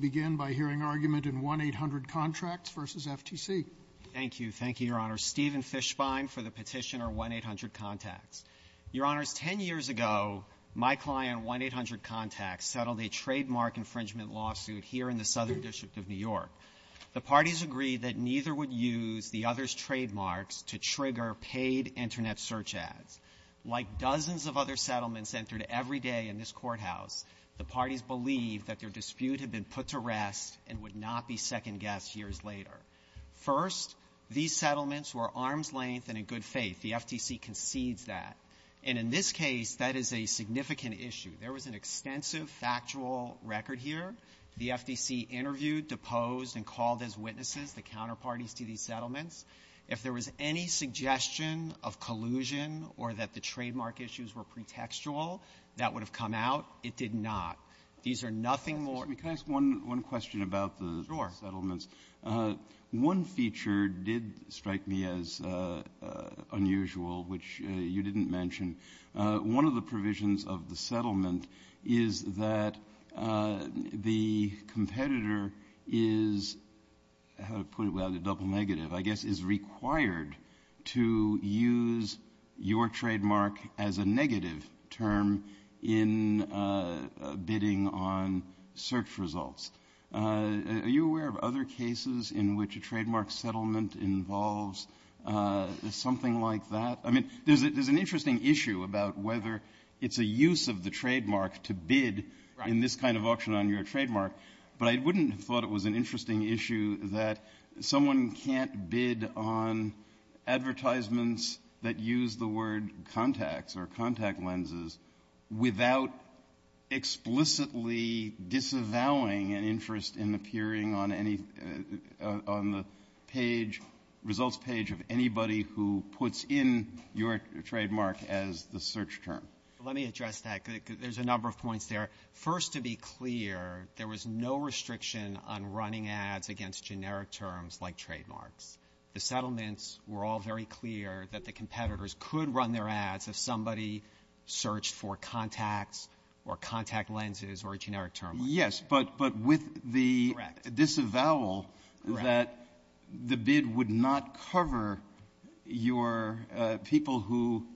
Thank you. Thank you, Your Honor. Stephen Fischbein for the petitioner 1-800 Contacts. Your Honors, ten years ago, my client 1-800 Contacts settled a trademark infringement lawsuit here in the Southern District of New York. The parties agreed that neither would use the other's trademarks to trigger paid Internet search ads. Like dozens of other settlements entered every day in this courthouse, the parties believed that their dispute had been put to rest and would not be second-guessed years later. First, these settlements were arm's length and in good faith. The FTC concedes that. And in this case, that is a significant issue. There was an extensive factual record here. The FTC interviewed, deposed, and called as witnesses the counterparties to these settlements. If there was any suggestion of collusion or that the trademark issues were pretextual, that would have come out. It did not. These are nothing more – Let me ask one question about the New York settlements. One feature did strike me as unusual, which you didn't mention. One of the provisions of the settlement is that the competitor is – how to put it without a double negative, I guess – is required to use your trademark as a negative term in bidding on search results. Are you aware of other cases in which a trademark settlement involves something like that? I mean, there's an interesting issue about whether it's a use of the trademark to bid in this kind of auction on your trademark, but I wouldn't have thought it was an interesting issue that someone can't bid on advertisements that use the word contacts or contact lenses without explicitly disavowing an interest in appearing on any – on the page, results page of anybody who puts in your trademark as the search term. Let me address that, because there's a number of points there. First, to be clear, there were no terms like trademarks. The settlements were all very clear that the competitors could run their ass if somebody searched for contacts or contact lenses or a generic term. Yes, but with the disavowal that the bid would not cover your – people who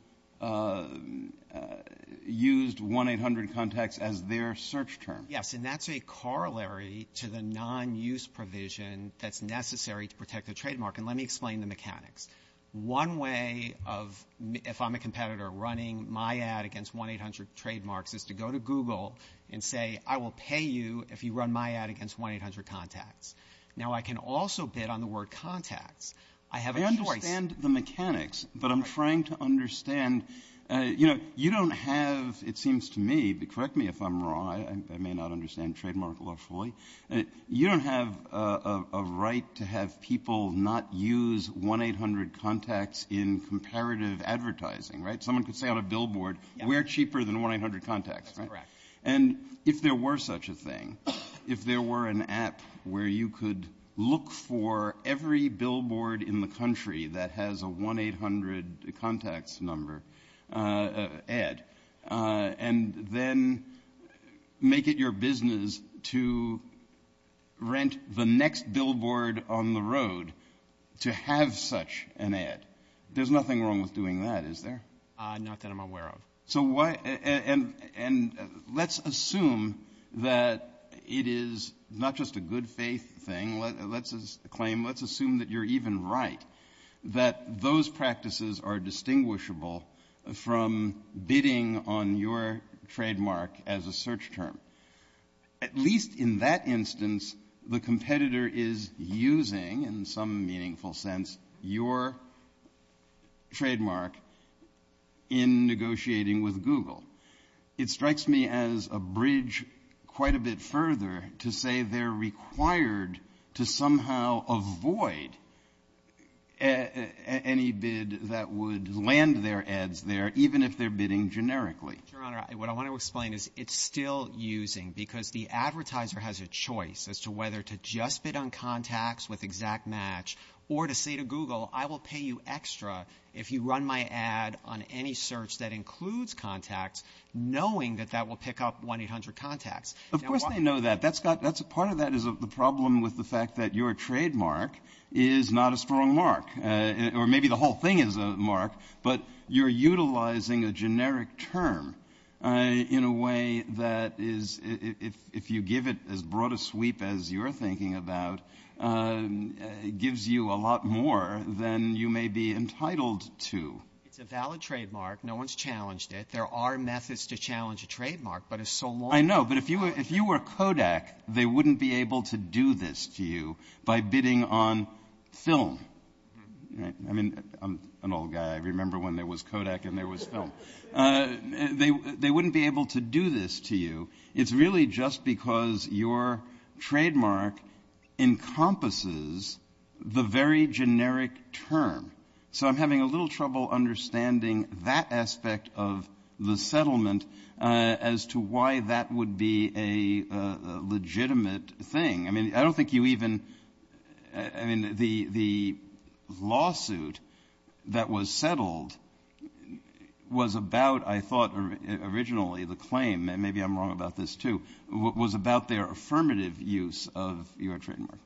used 1-800-CONTACTS as their search term. Yes, and that's a corollary to the non-use provision that's necessary to protect the trademark. And let me explain the mechanics. One way of – if I'm a competitor running my ad against 1-800-TRADEMARKS is to go to Google and say, I will pay you if you run my ad against 1-800-CONTACTS. Now, I can also bid on the word contacts. I have a – I understand the mechanics, but I'm trying to understand – you know, you don't have – it seems to me – correct me if I'm wrong, I may not understand trademark law fully – you don't have a right to have people not use 1-800-CONTACTS in comparative advertising, right? Someone could say on a billboard, we're cheaper than 1-800-CONTACTS, right? Correct. And if there were such a thing, if there were an app where you could look for every billboard in the country that has a 1-800-CONTACTS number – ad – and then make it your business to rent the next billboard on the road to have such an ad, there's nothing wrong with doing that, is there? Not that I'm aware of. So why – and let's assume that it is not just a good faith thing. Let's claim – let's say it's right – that those practices are distinguishable from bidding on your trademark as a search term. At least in that instance, the competitor is using, in some meaningful sense, your trademark in negotiating with Google. It strikes me as a bridge quite a further to say they're required to somehow avoid any bid that would land their ads there, even if they're bidding generically. Your Honor, what I want to explain is it's still using because the advertiser has a choice as to whether to just bid on CONTACTS with exact match or to say to Google, I will pay you extra if you run my ad on any search that includes CONTACTS knowing that that will pick up 1-800-CONTACTS. Of course they know that. Part of that is the problem with the fact that your trademark is not a strong mark, or maybe the whole thing is a mark, but you're utilizing a generic term in a way that is, if you give it as broad a sweep as you're thinking about, gives you a lot more than you may be entitled to. It's a valid trademark. No one's challenged it. There are methods to challenge a trademark, but it's so long – I know, but if you were Kodak, they wouldn't be able to do this to you by bidding on film. I mean, I'm an old guy. I remember when there was Kodak and there was film. They wouldn't be able to do this to you. It's really just because your trademark encompasses the very generic term. So I'm having a little trouble understanding that aspect of the settlement as to why that would be a legitimate thing. I mean, I don't think you even – I mean, the lawsuit that was settled was about, I thought originally, the claim – and maybe I'm wrong about this too – was about their affirmative use of your trademark.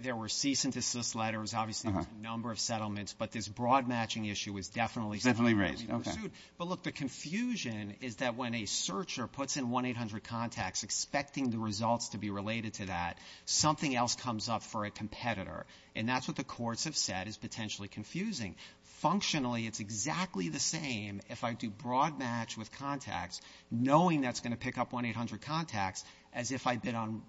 There were cease-and-desist letters, obviously, with a number of settlements, but this broad matching issue was definitely – Definitely raised, okay. But look, the confusion is that when a searcher puts in 1-800-CONTACTS expecting the results to be related to that, something else comes up for a competitor, and that's what the courts have said is potentially confusing. Functionally, it's exactly the same if I do broad match with contacts knowing that's going to pick up 1-800-CONTACTS as if I bid on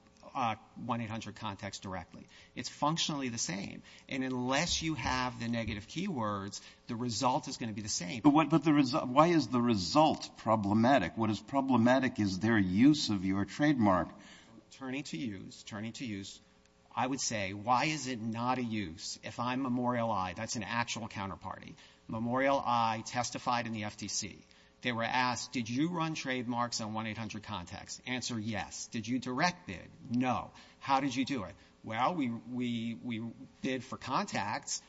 1-800-CONTACTS directly. It's functionally the same, and unless you have the negative keywords, the result is going to be the same. But why is the result problematic? What is problematic is their use of your trademark. Turning to use, turning to use, I would say, why is it not a use if I'm Memorial I – that's an actual counterparty – Memorial I testified in the FTC. They were asked, did you run trademarks on 1-800-CONTACTS? Answer, yes. Did you direct bid? No. How did you do it? Well, we bid for 1-800-CONTACTS.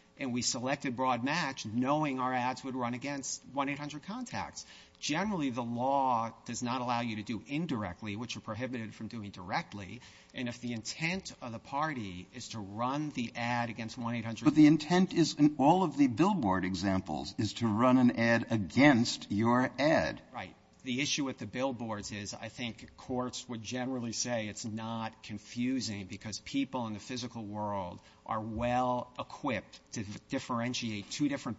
Generally, the law does not allow you to do indirectly, which are prohibited from doing directly, and if the intent of the party is to run the ad against 1-800-CONTACTS… The intent is in all of the billboard examples is to run an ad against your ad. Right. The issue with the billboards is I think courts would generally say it's not confusing because people in the physical world are well-equipped to differentiate two different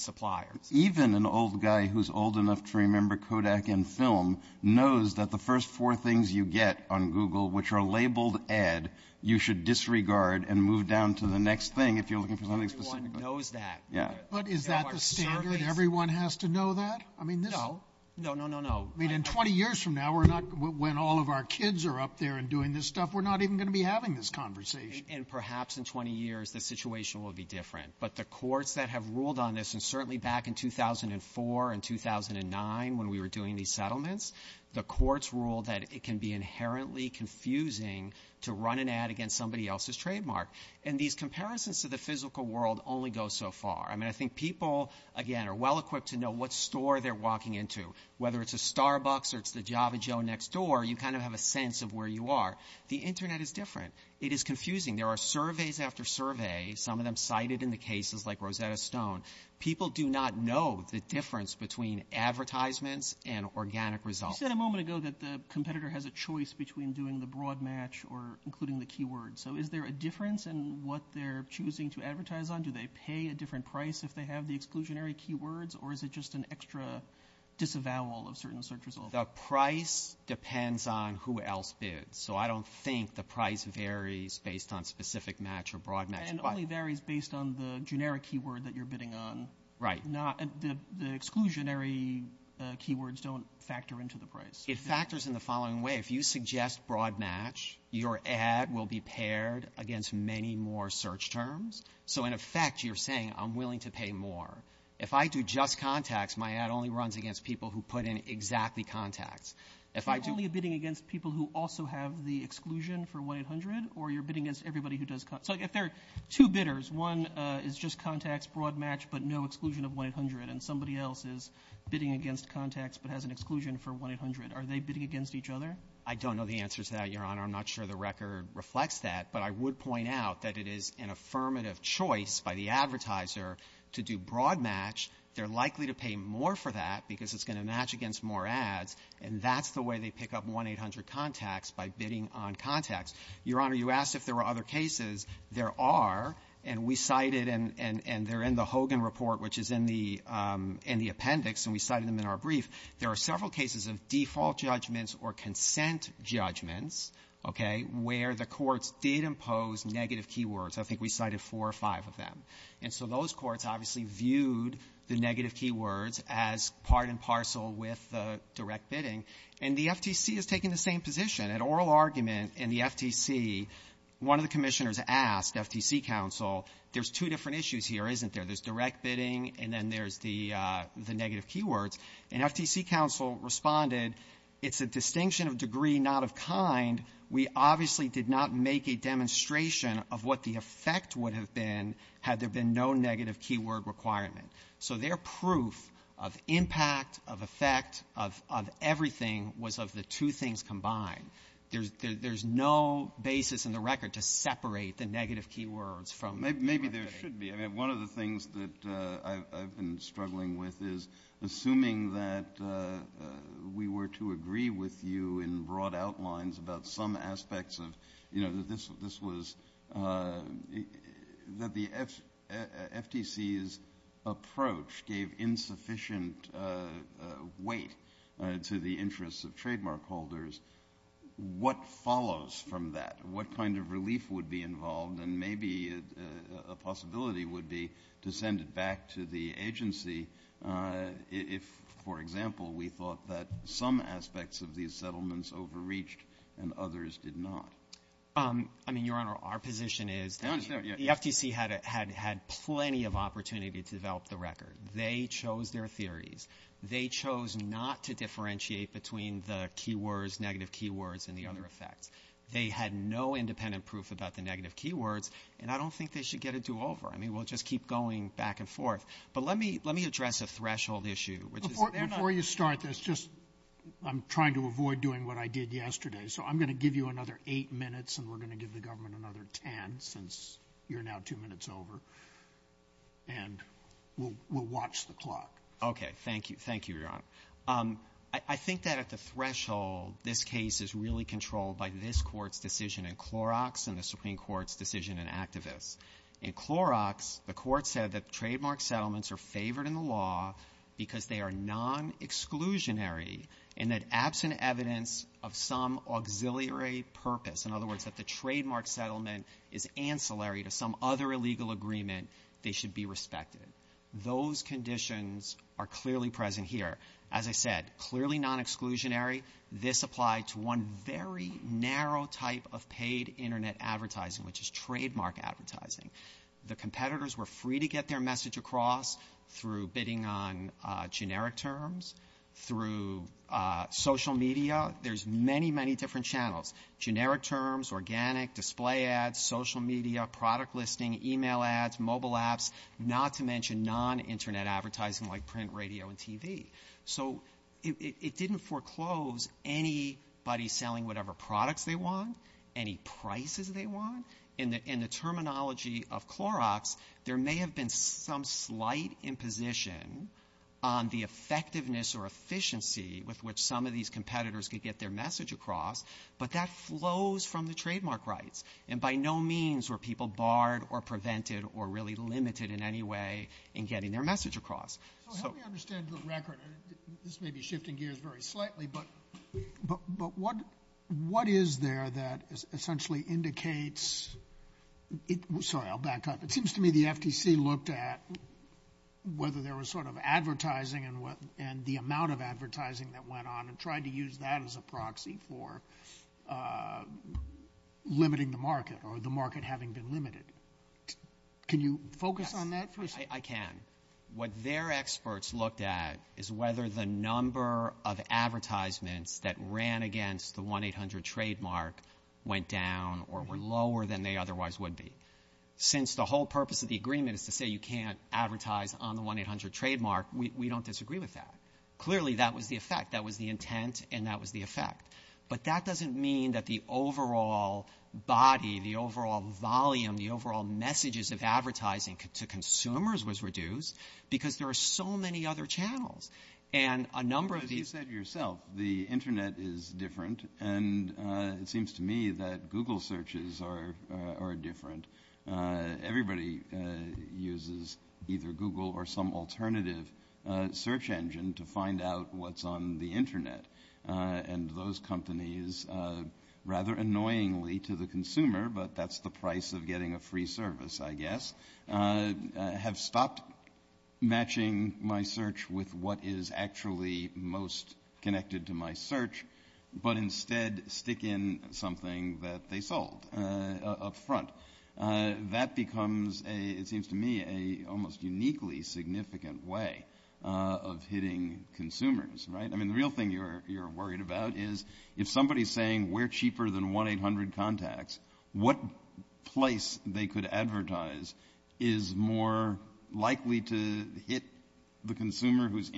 suppliers. Even an old guy who's old enough to remember Kodak and film knows that the first four things you get on Google, which are labeled ad, you should disregard and move down to the next thing if you're looking for something specific. Everyone knows that. Yeah. But is that the standard? Everyone has to know that? I mean, no. No, no, no, no. I mean, in 20 years from now, we're not – when all of our kids are up there and doing this stuff, we're not even going to be having this conversation. And perhaps in 20 years, the situation will be different. But the courts that have ruled on this, and certainly back in 2004 and 2009 when we were doing these settlements, the courts ruled that it can be inherently confusing to run an ad against somebody else's trademark. And these comparisons to the physical world only go so far. I mean, I think people, again, are well-equipped to know what store they're walking into. Whether it's a Starbucks or it's the Java Joe next door, you kind of have a sense of where you are. The Internet is different. It is confusing. There are surveys after survey, some of them cited in the cases like Rosetta Stone. People do not know the difference between advertisements and organic results. You said a moment ago that the competitor has a choice between doing the broad match or including the keywords. So is there a difference in what they're choosing to advertise on? Do they pay a different price if they have the exclusionary keywords, or is it just an extra disavowal of certain search results? The price depends on who else bids. So I don't think the price varies based on specific match or broad match. And only varies based on the generic keyword that you're bidding on. Right. The exclusionary keywords don't factor into the price. It factors in the following way. If you suggest broad match, your ad will be paired against many more search terms. So in effect, you're saying, I'm willing to pay more. If I do just contacts, my ad only runs against people who put in exactly contacts. Are you only bidding against people who also have the exclusion for 1-800, or you're bidding against everybody who does contacts? So if there are two bidders, one is just contacts, broad match, but no exclusion of 1-800, and somebody else is bidding against contacts but has an exclusion for 1-800, are they bidding against each other? I don't know the answer to that, Your Honor. I'm not sure the record reflects that. But I would point out that it is an affirmative choice by the advertiser to do broad match. They're likely to pay more for that because it's going to match against more ads, and that's the way they pick up 1-800 contacts, by bidding on contacts. Your Honor, you asked if there were other cases. There are, and we cited, and they're in the Hogan report, which is in the appendix, and we cited them in our brief. There are several cases of default judgments or consent judgments, okay, where the courts did impose negative keywords. I think we cited four or five of them. And so those courts obviously viewed the negative keywords as part and parcel with the direct bidding. And the FTC is taking the same position. An oral argument in the FTC, one of the commissioners asked FTC counsel, there's two different issues here, isn't there? There's direct bidding, and then there's the negative keywords. And FTC counsel responded, it's a distinction of degree, not of kind. We obviously did not make a demonstration of what the effect would have been had there been no negative keyword requirement. So their proof of impact, of effect, of everything was of the two things combined. There's no basis in the record to separate the negative keywords from the direct bidding. Maybe there should be. I mean, one of the things that I've been struggling with is assuming that we were to agree with you in broad outlines about some aspects of, you know, that this was, that the FTC's approach gave insufficient weight to the interests of trademark holders. What follows from that? What kind of relief would be involved? And maybe a possibility would be to send it back to the agency if, for example, we thought that some aspects of these settlements overreached and others did not. I mean, Your Honor, our position is the FTC had plenty of opportunity to develop the record. They chose their theories. They chose not to differentiate between the keywords, negative keywords, and the other effects. They had no independent proof about the negative keywords, and I don't think they should get it to over. I mean, we'll just keep going back and forth. But let me address a threshold issue. Before you start this, just, I'm trying to avoid doing what I did yesterday, so I'm going to give you another eight minutes, and we're going to give the government another ten since you're now two minutes over. And we'll watch the clock. Okay. Thank you. Thank you, Your Honor. I think that at the threshold, this case is really controlled by this Court's decision in Clorox and the Supreme Court's decision in Activist. In Clorox, the Court said that trademark settlements are favored in the law because they are non-exclusionary and that absent evidence of some auxiliary purpose, in other words, that the trademark settlement is ancillary to some other illegal agreement, they should be respected. Those conditions are clearly present here. As I said, clearly non-exclusionary. This applied to one very narrow type of paid Internet advertising, which is trademark advertising. The competitors were free to get their message across through bidding on generic terms, through social media. There's many, many different channels. Generic terms, organic, display ads, social media, product listing, email ads, mobile apps, not to mention non-Internet advertising like print, radio, and TV. So it didn't foreclose anybody selling whatever products they want, any prices they want. In the terminology of the competition, the effectiveness or efficiency with which some of these competitors could get their message across, but that flows from the trademark rights. And by no means were people barred or prevented or really limited in any way in getting their message across. So how do we understand the record? This may be shifting gears very slightly, but what is there that essentially indicates – sorry, I'll back up. It seems to me the FTC looked at whether there was sort of advertising and the amount of advertising that went on and tried to use that as a proxy for limiting the market or the market having been limited. Can you focus on that for a second? I can. What their experts looked at is whether the number of advertisements that ran against the 1-800 trademark went down or were lower than they otherwise would be. Since the whole purpose of the agreement is to say you can't advertise on the 1-800 trademark, we don't disagree with that. Clearly that was the effect. That was the intent and that was the effect. But that doesn't mean that the overall body, the overall volume, the overall messages of advertising to consumers was reduced, because there are so many other channels. And a number of these – And it seems to me that Google searches are different. Everybody uses either Google or some alternative search engine to find out what's on the internet. And those companies, rather annoyingly to the consumer – but that's the price of getting a free service, I guess – have stopped matching my search with what is actually most connected to my website. And instead stick in something that they sold up front. That becomes, it seems to me, an almost uniquely significant way of hitting consumers, right? I mean, the real thing you're worried about is if somebody is saying we're cheaper than 1-800 contacts, what place they could advertise is more likely to hit the consumer who is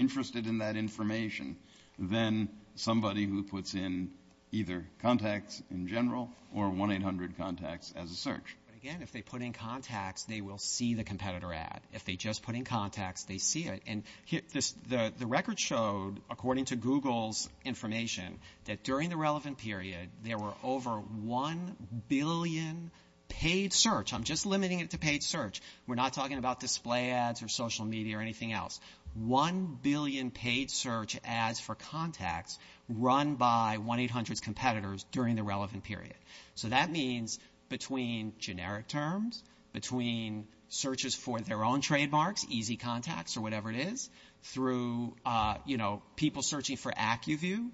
either contacts in general or 1-800 contacts as a search. Again, if they put in contacts, they will see the competitor ad. If they just put in contacts, they see it. And the record showed, according to Google's information, that during the relevant period, there were over 1 billion paid search – I'm just limiting it to paid search. We're not talking about display ads or social media or anything else. One billion paid search ads for contacts run by 1-800 competitors during the relevant period. So that means between generic terms, between searches for their own trademarks, easy contacts or whatever it is, through people searching for AccuView,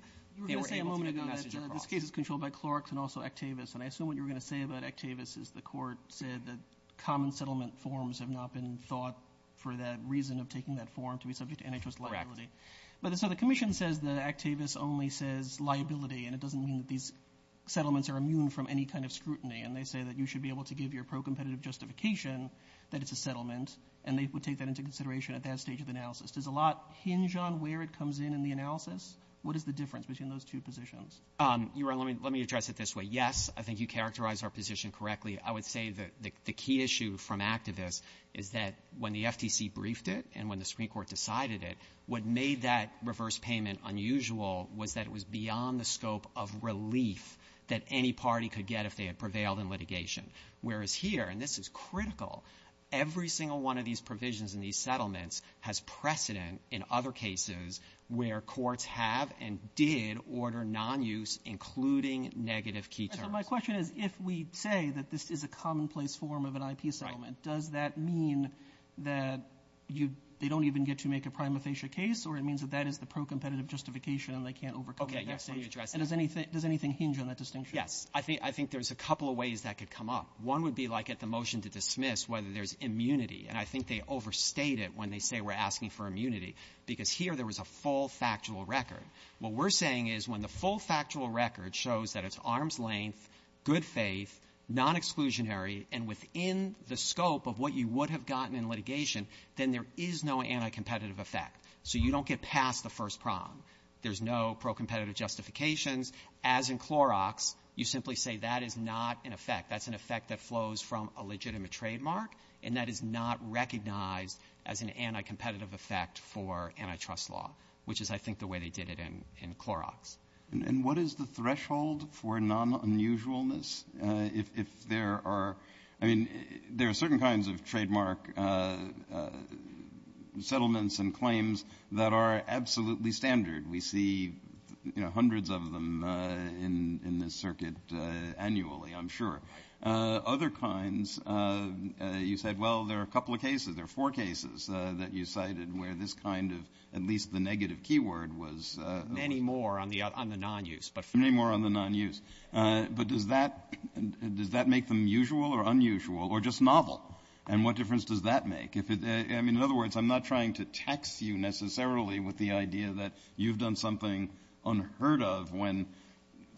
they were able to get the message across. You were going to say a moment ago that this case is controlled by Clarks and also Actavis. And I assume what you were going to say about Actavis is the court said that common settlement forms have not been sought for that reason of taking that form to be subject to an interest liability. But so the commission says that Actavis only says liability, and it doesn't mean that these settlements are immune from any kind of scrutiny. And they say that you should be able to give your pro-competitive justification that it's a settlement, and they would take that into consideration at that stage of analysis. Does a lot hinge on where it comes in in the analysis? What is the difference between those two positions? Let me address it this way. Yes, I think you characterized our position correctly. I would say that the key issue from Actavis is that when the FTC briefed it and when the Supreme Court made that reverse payment unusual was that it was beyond the scope of relief that any party could get if they had prevailed in litigation. Whereas here, and this is critical, every single one of these provisions in these settlements has precedent in other cases where courts have and did order non-use, including negative key terms. My question is if we say that this is a commonplace form of an IP settlement, does that mean that they don't even get to make a prima facie case, or it means that that is the pro-competitive justification and they can't overcome it? Does anything hinge on that distinction? Yes. I think there's a couple of ways that could come up. One would be like at the motion to dismiss whether there's immunity. And I think they overstate it when they say we're asking for immunity, because here there was a full factual record. What we're saying is when the full factual record shows that it's arm's length, good faith, non-exclusionary, and within the scope of what you would have gotten in litigation, then there is no anti-competitive effect. So you don't get past the first prong. There's no pro-competitive justifications. As in Clorox, you simply say that is not in effect. That's an effect that flows from a legitimate trademark, and that is not recognized as an anti-competitive effect for antitrust law, which is I think the way they did it in Clorox. And what is the threshold for non-unusualness? If there are – I mean, there are certain kinds of trademark settlements and claims that are absolutely standard. We see hundreds of them in this circuit annually, I'm sure. Other kinds, you said, well, there are a couple of cases or four cases that you cited where this kind of – at least the negative keyword was – Many more on the non-use. Many more on the non-use. But does that – does that make them usual or unusual or just novel? And what difference does that make? I mean, in other words, I'm not trying to tax you necessarily with the idea that you've done something unheard of when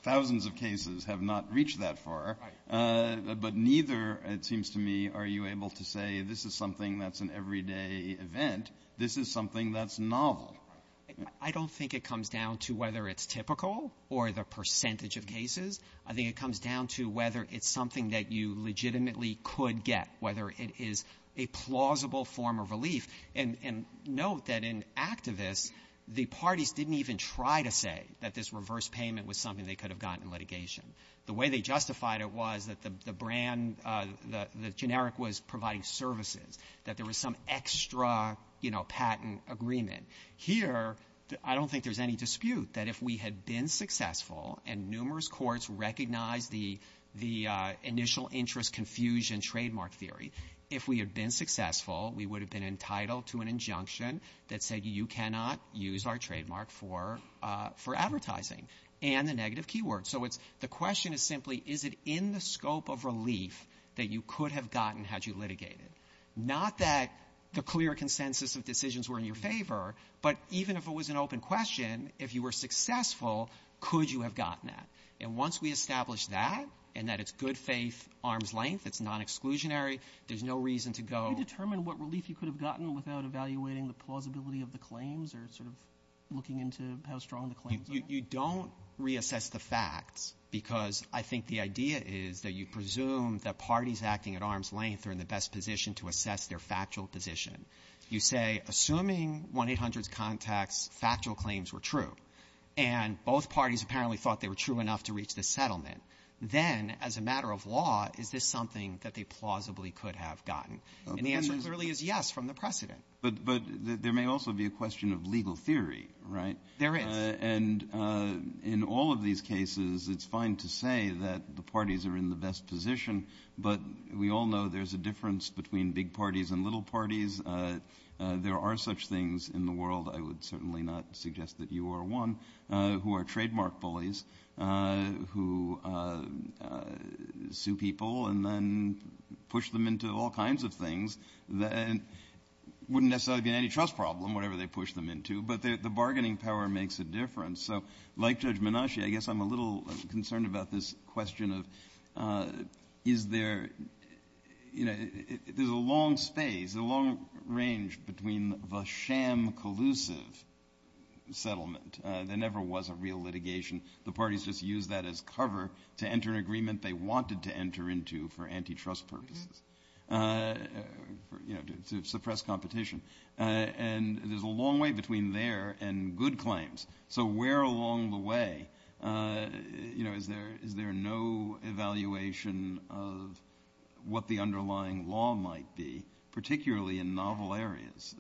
thousands of cases have not reached that far. But neither, it seems to me, are you able to say this is something that's an everyday event. This is something that's novel. I don't think it comes down to whether it's typical or the percentage of cases. I think it comes down to whether it's something that you legitimately could get, whether it is a plausible form of relief. And note that in Activist, the parties didn't even try to say that this reverse payment was something they could have gotten litigation. The way they justified it was that the brand – the generic was providing services, that there was some extra patent agreement. Here, I don't think there's any dispute that if we had been successful and numerous courts recognized the initial interest confusion trademark theory, if we had been successful, we would have been entitled to an injunction that said you cannot use our trademark for advertising and a negative keyword. So the question is simply, is it in the scope of relief that you could have gotten had you had the clear consensus that decisions were in your favor, but even if it was an open question, if you were successful, could you have gotten that? And once we establish that and that it's good faith, arm's length, it's non-exclusionary, there's no reason to go – Do you determine what relief you could have gotten without evaluating the plausibility of the claims or sort of looking into how strong the claims are? You don't reassess the facts because I think the idea is that you presume that parties acting at arm's length are in the best position to assess their factual position. You say, assuming 1-800-CONTACTS factual claims were true and both parties apparently thought they were true enough to reach the settlement, then as a matter of law, is this something that they plausibly could have gotten? And the answer clearly is yes from the precedent. But there may also be a question of legal theory, right? There is. And in all of these cases, it's fine to say that the parties are in the best position, but we all know there's a difference between big parties and little parties. There are such things in the world – I would certainly not suggest that you are one – who are trademark bullies, who sue people and then push them into all kinds of things. It wouldn't necessarily be an antitrust problem, whatever they push them into, but the bargaining power makes a difference. So like Judge Menashe, I guess I'm a little concerned about this question of is there – there's a long stay, there's a long range between the sham collusive settlement that never was a real litigation. The parties just used that as cover to enter an agreement they wanted to enter into for antitrust purposes, to suppress competition. And there's a long way between there and good claims. So where along the way is there no evaluation of what the underlying law might be, particularly in novel areas?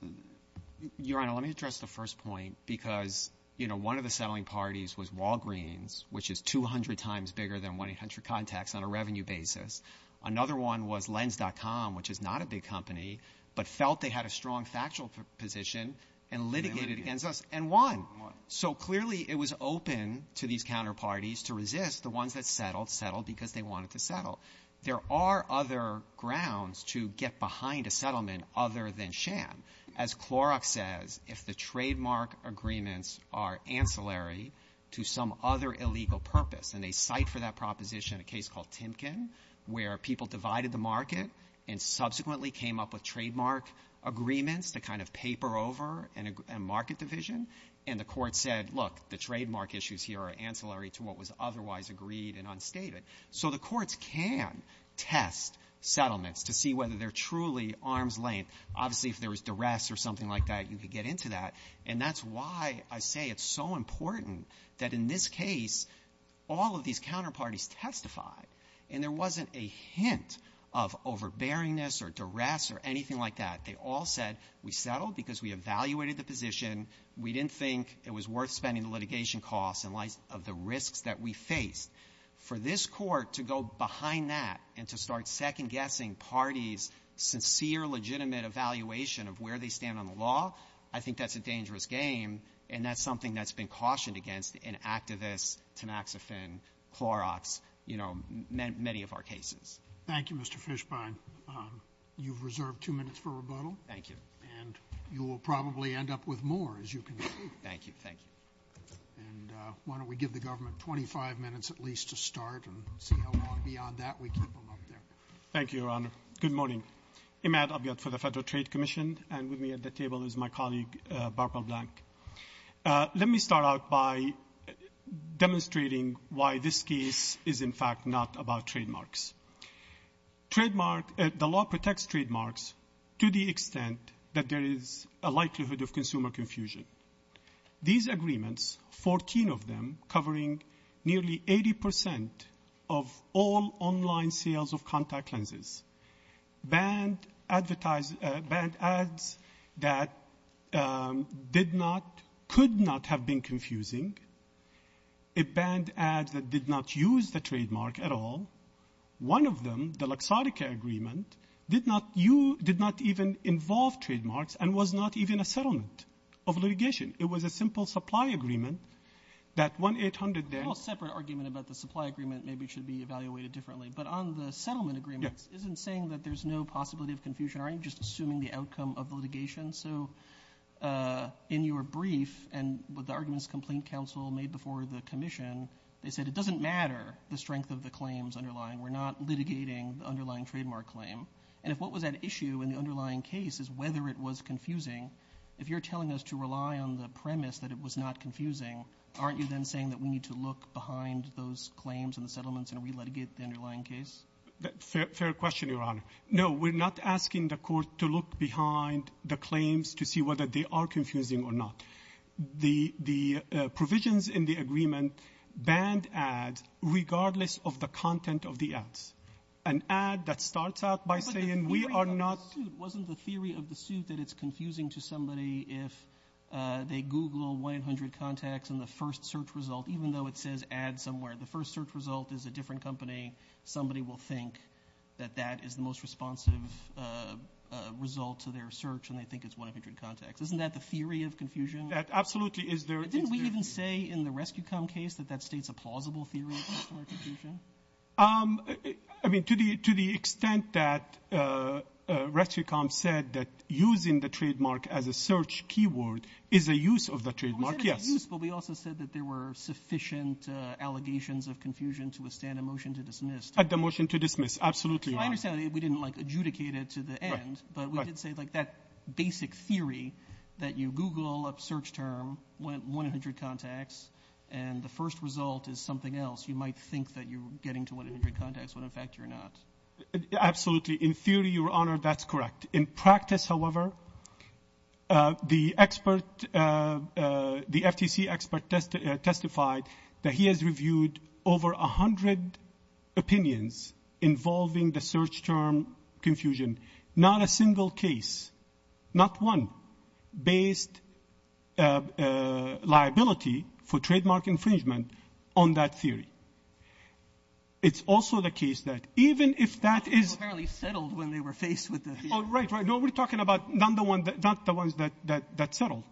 Your Honor, let me address the first point because one of the settling parties was Walgreens, which is 200 times bigger than 100 Contacts on a revenue basis. Another one was Lens.com, which is not a big company, but felt they had a strong factual position and litigated against us and won. So clearly it was open to these counterparties to resist the ones that settled, settled because they wanted to settle. There are other grounds to get behind a settlement other than sham. As Clorox says, if the trademark agreements are ancillary to some other illegal purpose, and they cite for that proposition a case called Timken where people divided the market and subsequently came up with trademark agreements to kind of paper over a market division, and the court said, look, the trademark issues here are ancillary to what was otherwise agreed and unstated. So the courts can test settlements to see whether they're truly arm's length. Obviously, if there was duress or something like that, you could get into that. And that's why I say it's so important that in this case all of these counterparties testify, and there wasn't a hint of overbearingness or duress or anything like that. They all said we settled because we evaluated the position. We didn't think it was worth spending the litigation costs in light of the risks that we faced. For this court to go behind that and to start second-guessing parties' sincere, legitimate evaluation of where they stand on the law, I think that's a dangerous game, and that's something that's been cautioned against in activists, Tamaxifen, Clorox, you know, many of our cases. Thank you, Mr. Fishbein. You've reserved two minutes for rebuttal. Thank you. And you will probably end up with more as you continue. Thank you. Thank you. And why don't we give the government 25 minutes at least to start, and we'll see how far beyond that we can go. Thank you, Your Honor. Good morning. Imad Abyad for the Federal Trade Commission, and with me at the table is my colleague, Barbara Blank. Let me start out by demonstrating why this case is in fact not about trademarks. The law protects trademarks to the extent that there is a likelihood of consumer confusion. These agreements, 14 of them, covering nearly 80 percent of all online sales of contact lenses, banned ads that did not, could not have been confusing. It banned ads that did not use the trademark at all. One of them, the Lexarica Agreement, did not even involve trademarks and was not even a settlement of litigation. It was a simple supply agreement that 1-800-BAN. We'll have a separate argument about the supply agreement. Maybe it should be evaluated differently. But on the settlement agreement, it isn't saying that there's no possibility of confusion. I'm just assuming the outcome of litigation. So in your brief and with the arguments complaint counsel made before the commission, they said it doesn't matter the strength of the claims underlying. We're not litigating the underlying trademark claim. And if what was at issue in the underlying case is whether it was confusing, if you're telling us to rely on the premise that it was not confusing, aren't you then saying that we need to look behind those claims and the settlements and re-litigate the underlying case? Fair question, Your Honor. No, we're not asking the court to look behind the claims to see whether they are confusing or not. The provisions in the agreement banned ads regardless of the content of the ads. An ad that starts out by saying we are not. Wasn't the theory of the suit that it's confusing to somebody if they Google 100 contacts and the first search result, even though it says ad somewhere, the first search result is a different company, somebody will think that that is the most responsive result to their search and they think it's 100 contacts. Isn't that the theory of confusion? Absolutely. Didn't we even say in the Rescue Count case that that states a plausible theory of confusion? To the extent that Rescue Count said that using the trademark as a search keyword is a use of the trademark, yes. We also said that there were sufficient allegations of confusion to withstand a motion to dismiss. A motion to dismiss, absolutely. I understand we didn't adjudicate it to the end, but we did say that basic theory that you Google a search term, 100 contacts, and the first result is something else. You might think that you're getting to 100 contacts when, in fact, you're not. Absolutely. In theory, Your Honor, that's correct. In practice, however, the FTC expert testified that he has reviewed over 100 opinions involving the search term confusion. Not a single case, not one, based liability for trademark infringement on that theory. It's also the case that even if that is... Apparently settled when they were faced with this. Oh, right, right. No, we're talking about not the ones that settled.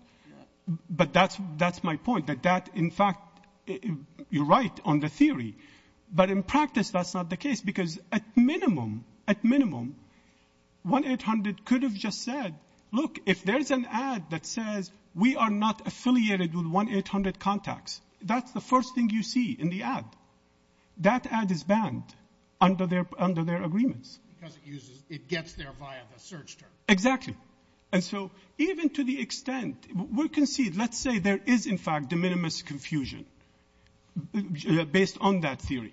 But that's my point, that that, in fact, you're right on the theory. But in practice, that's not the case because at minimum, at minimum, 1-800 could have just said, look, if there's an ad that says we are not affiliated with 1-800 contacts, that's the first thing you see in the ad. That ad is banned under their agreements. It gets there via the search term. Exactly. And so even to the extent, we can see, let's say there is, in fact, de minimis confusion based on that theory.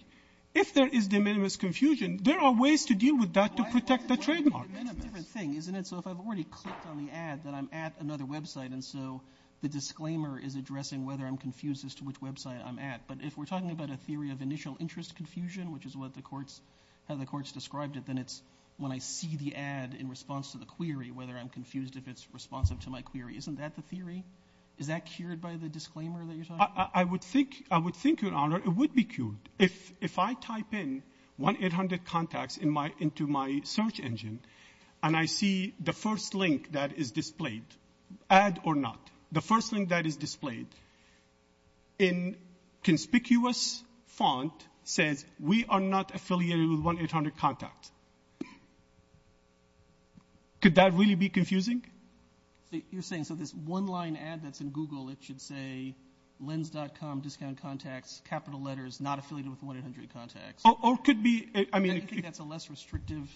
If there is de minimis confusion, there are ways to deal with that to protect the trademark. It's a different thing, isn't it? So if I've already clicked on the ad that I'm at another website, and so the disclaimer is addressing whether I'm confused as to which website I'm at. But if we're talking about a theory of initial interest confusion, which is how the courts described it, then it's when I see the ad in response to the query, whether I'm confused if it's responsive to my query. Isn't that the theory? Is that cured by the disclaimer that you're talking about? I would think, Your Honor, it would be cured. If I type in 1-800 contacts into my search engine and I see the first link that is displayed, ad or not, the first link that is displayed in conspicuous font says we are not affiliated with 1-800 contacts. Could that really be confusing? You're saying so this one-line ad that's in Google, it should say lens.com, discount contacts, capital letters, not affiliated with 1-800 contacts. Or it could be, I mean... It's a less restrictive...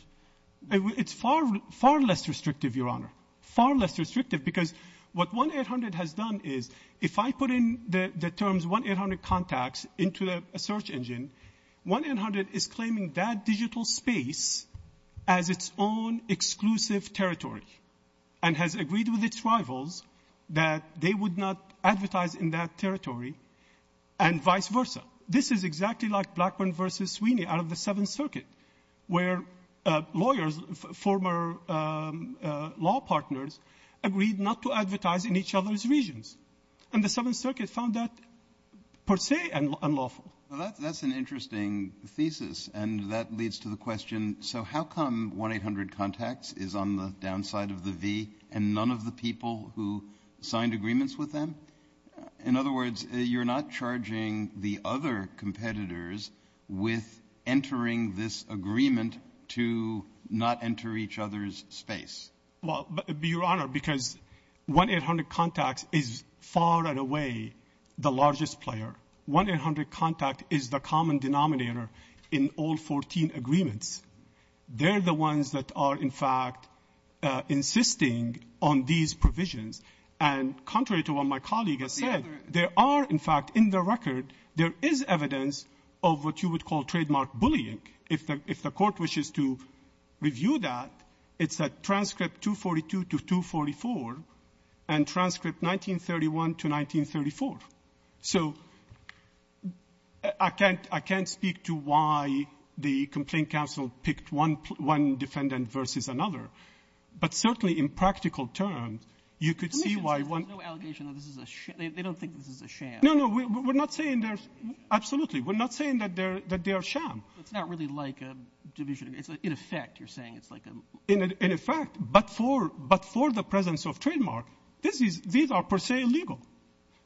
It's far, far less restrictive, Your Honor. Far less restrictive because what 1-800 has done is if I put in the terms 1-800 contacts into a search engine, 1-800 is claiming that digital space as its own exclusive territory and has agreed with its rivals that they would not advertise in that territory and vice versa. This is exactly like Blackburn v. Sweeney out of the Seventh Circuit where lawyers, former law partners, agreed not to advertise in each other's regions. And the Seventh Circuit found that per se unlawful. That's an interesting thesis and that leads to the question, so how come 1-800 contacts is on the downside of the V and none of the people who signed agreements with them? In other words, you're not charging the other competitors with entering this agreement to not enter each other's space. Well, Your Honor, because 1-800 contacts is far and away the largest player. 1-800 contacts is the common denominator in all 14 agreements. They're the ones that are in fact insisting on these provisions. And contrary to what my colleague has said, there are, in fact, in the record, there is evidence of what you would call trademark bullying. If the court wishes to review that, it's at transcript 242 to 244 and transcript 1931 to 1934. So I can't speak to why the complaint counsel picked one defendant versus another. But certainly in practical terms, you could see why one... There's no allegation that this is a sham. They don't think this is a sham. No, no. We're not saying there's... Absolutely. We're not saying that they are a sham. It's not really like a division. In effect, you're saying it's like a... In effect. But for the presence of trademark, these are per se illegal.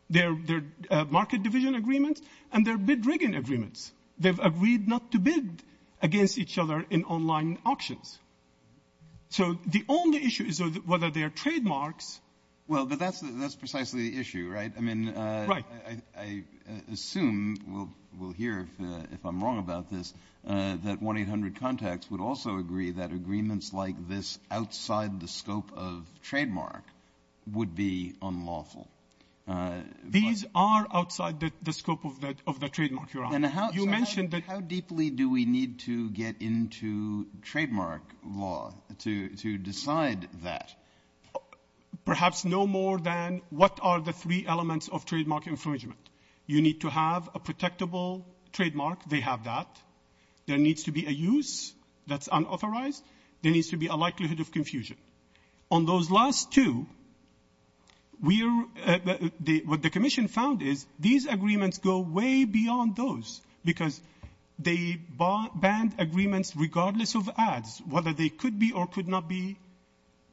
They're market division agreements and they're bid-rigging agreements. They've agreed not to bid against each other in online auctions. So the only issue is whether they are trademarks. Well, but that's precisely the issue, right? I mean, I assume we'll hear, if I'm wrong about this, that 1-800-CONTACTS would also agree that agreements like this outside the scope of trademark would be unlawful. These are outside the scope of the trademark, Your Honor. How deeply do we need to get into trademark law to decide that? Perhaps no more than what are the three elements of trademark infringement. You need to have a protectable trademark. They have that. There needs to be a use that's unauthorized. There needs to be a likelihood of confusion. On those last two, what the Commission found is these agreements go way beyond those because they banned agreements regardless of ads, whether they could be or could not be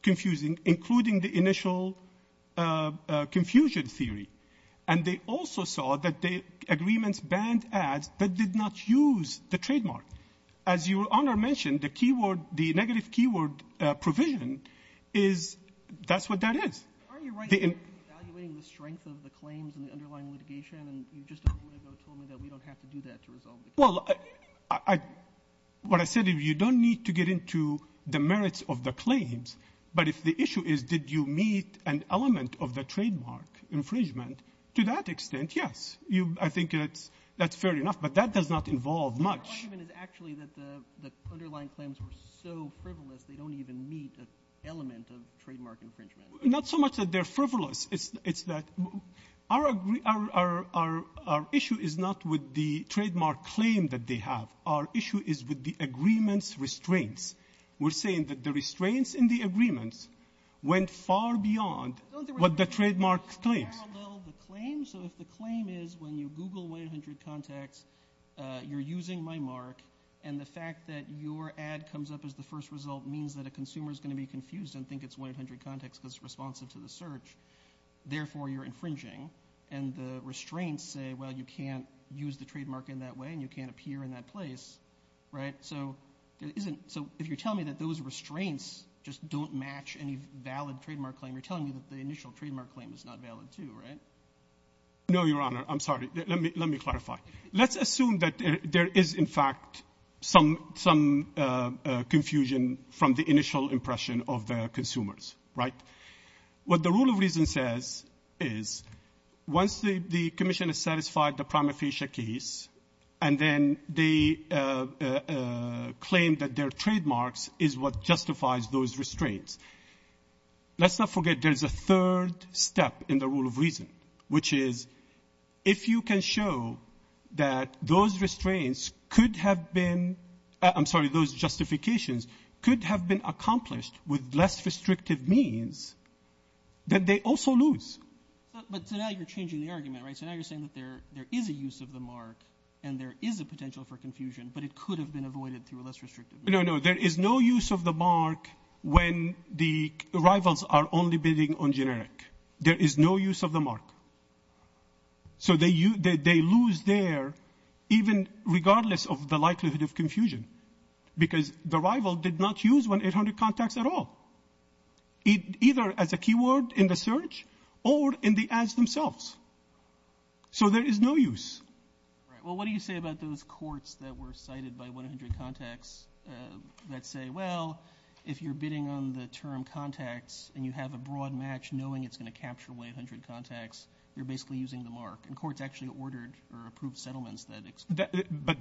confusing, including the initial confusion theory. And they also saw that the agreements banned ads that did not use the trademark. As Your Honor mentioned, the negative keyword provision, that's what that is. Aren't you right in evaluating the strength of the claims and the underlying litigation? You just told me that we don't have to do that to resolve the case. Well, what I said is you don't need to get into the merits of the claims, but if the issue is did you meet an element of the trademark infringement, to that extent, yes. I think that's fair enough, but that does not involve much. The argument is actually that the underlying claims were so frivolous they don't even meet the element of trademark infringement. Not so much that they're frivolous. It's that our issue is not with the trademark claim that they have. Our issue is with the agreements restraints. We're saying that the restraints in the agreements went far beyond what the trademark claims. So if the claim is when you Google 100 Contacts, you're using my mark, and the fact that your ad comes up as the first result means that a consumer is going to be confused and think it's 100 Contacts because it's responsive to the search, therefore you're infringing. And the restraints say, well, you can't use the trademark in that way, and you can't appear in that place. So if you're telling me that those restraints just don't match any valid trademark claim, you're telling me that the initial trademark claim is not valid too, right? No, Your Honor. I'm sorry. Let me clarify. Let's assume that there is, in fact, some confusion from the initial impression of the consumers, right? What the rule of reason says is once the commission has satisfied the prima facie case and then they claim that their trademark is what justifies those restraints, let's not forget there's a third step in the rule of reason, which is if you can show that those restraints could have been – I'm sorry, those justifications could have been accomplished with less restrictive means, then they also lose. But to that you're changing the argument, right? So now you're saying that there is a use of the mark and there is a potential for confusion, but it could have been avoided through a less restrictive means. No, no. There is no use of the mark when the rivals are only bidding on generic. There is no use of the mark. So they lose there even regardless of the likelihood of confusion because the rival did not use 1-800-CONTACTS at all, either as a keyword in the search or in the ads themselves. So there is no use. Well, what do you say about those courts that were cited by 1-800-CONTACTS that say, well, if you're bidding on the term CONTACTS and you have a broad match knowing it's going to capture 1-800-CONTACTS, you're basically using the mark? And courts actually ordered or approved settlements that explain that. But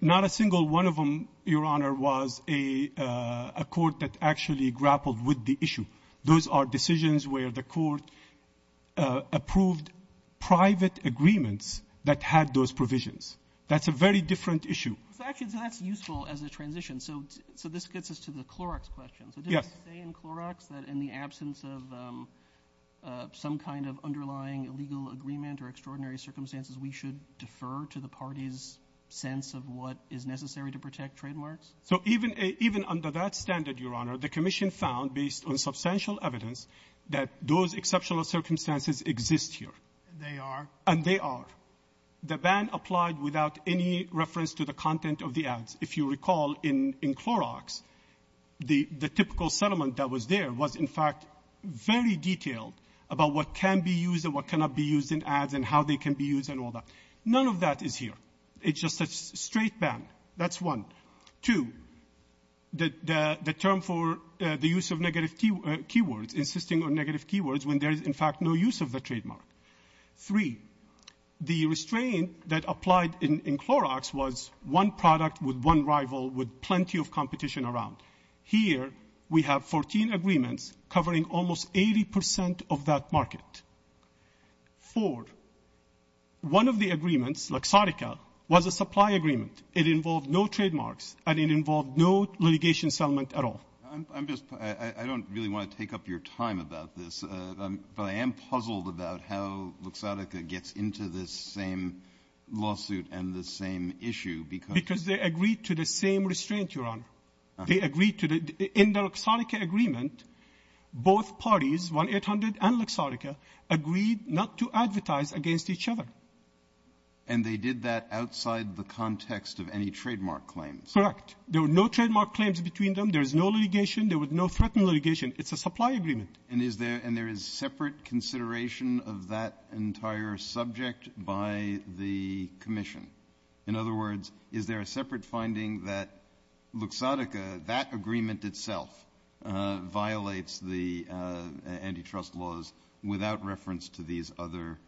not a single one of them, Your Honor, was a court that actually grappled with the issue. Those are decisions where the court approved private agreements that had those provisions. That's a very different issue. Actually, that's useful as a transition. So this gets us to the Clorox question. Yes. Did they say in Clorox that in the absence of some kind of underlying legal agreement or extraordinary circumstances, we should defer to the parties' sense of what is necessary to protect trademarks? So even under that standard, Your Honor, the Commission found based on substantial evidence that those exceptional circumstances exist here. And they are? And they are. The ban applied without any reference to the content of the ads. If you recall, in Clorox, the typical settlement that was there was, in fact, very detailed about what can be used and what cannot be used in ads and how they can be used and all that. None of that is here. It's just a straight ban. That's one. Two, the term for the use of negative keywords, insisting on negative keywords when there is, in fact, no use of the trademark. Three, the restraint that applied in Clorox was one product with one rival with plenty of competition around. Here we have 14 agreements covering almost 80% of that market. Four, one of the agreements, Laxatica, was a supply agreement. It involved no trademarks, and it involved no relegation settlement at all. I don't really want to take up your time about this, but I am puzzled about how Laxatica gets into this same lawsuit and this same issue. Because they agreed to the same restraint, Your Honor. In the Laxatica agreement, both parties, 1-800 and Laxatica, agreed not to advertise against each other. And they did that outside the context of any trademark claims? Correct. There were no trademark claims between them. There was no litigation. There was no threatened litigation. It's a supply agreement. And there is separate consideration of that entire subject by the commission? In other words, is there a separate finding that Laxatica, that agreement itself violates the antitrust laws without reference to these other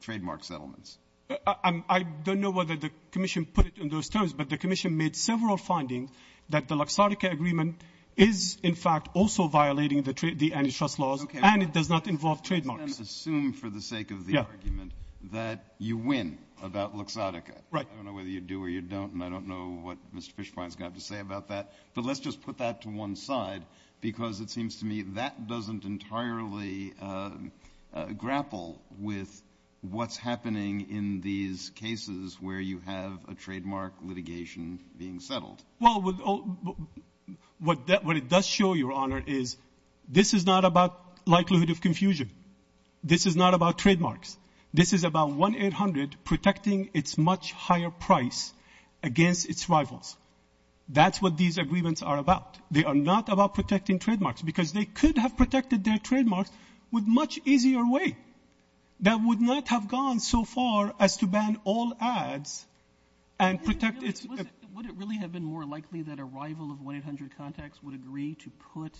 trademark settlements? I don't know whether the commission put it in those terms, but the commission made several findings that the Laxatica agreement is, in fact, also violating the antitrust laws, and it does not involve trademarks. Okay. Let's assume, for the sake of the argument, that you win about Laxatica. Right. I don't know whether you do or you don't, and I don't know what Mr. Fishbein's got to say about that. But let's just put that to one side, because it seems to me that doesn't entirely grapple with what's happening in these cases where you have a trademark litigation being settled. Well, what it does show, Your Honor, is this is not about likelihood of confusion. This is not about trademarks. This is about 1-800 protecting its much higher price against its rivals. That's what these agreements are about. They are not about protecting trademarks, because they could have protected their trademarks with a much easier way. That would not have gone so far as to ban all ads and protect its rivals. Would it really have been more likely that a rival of 1-800 contacts would agree to put,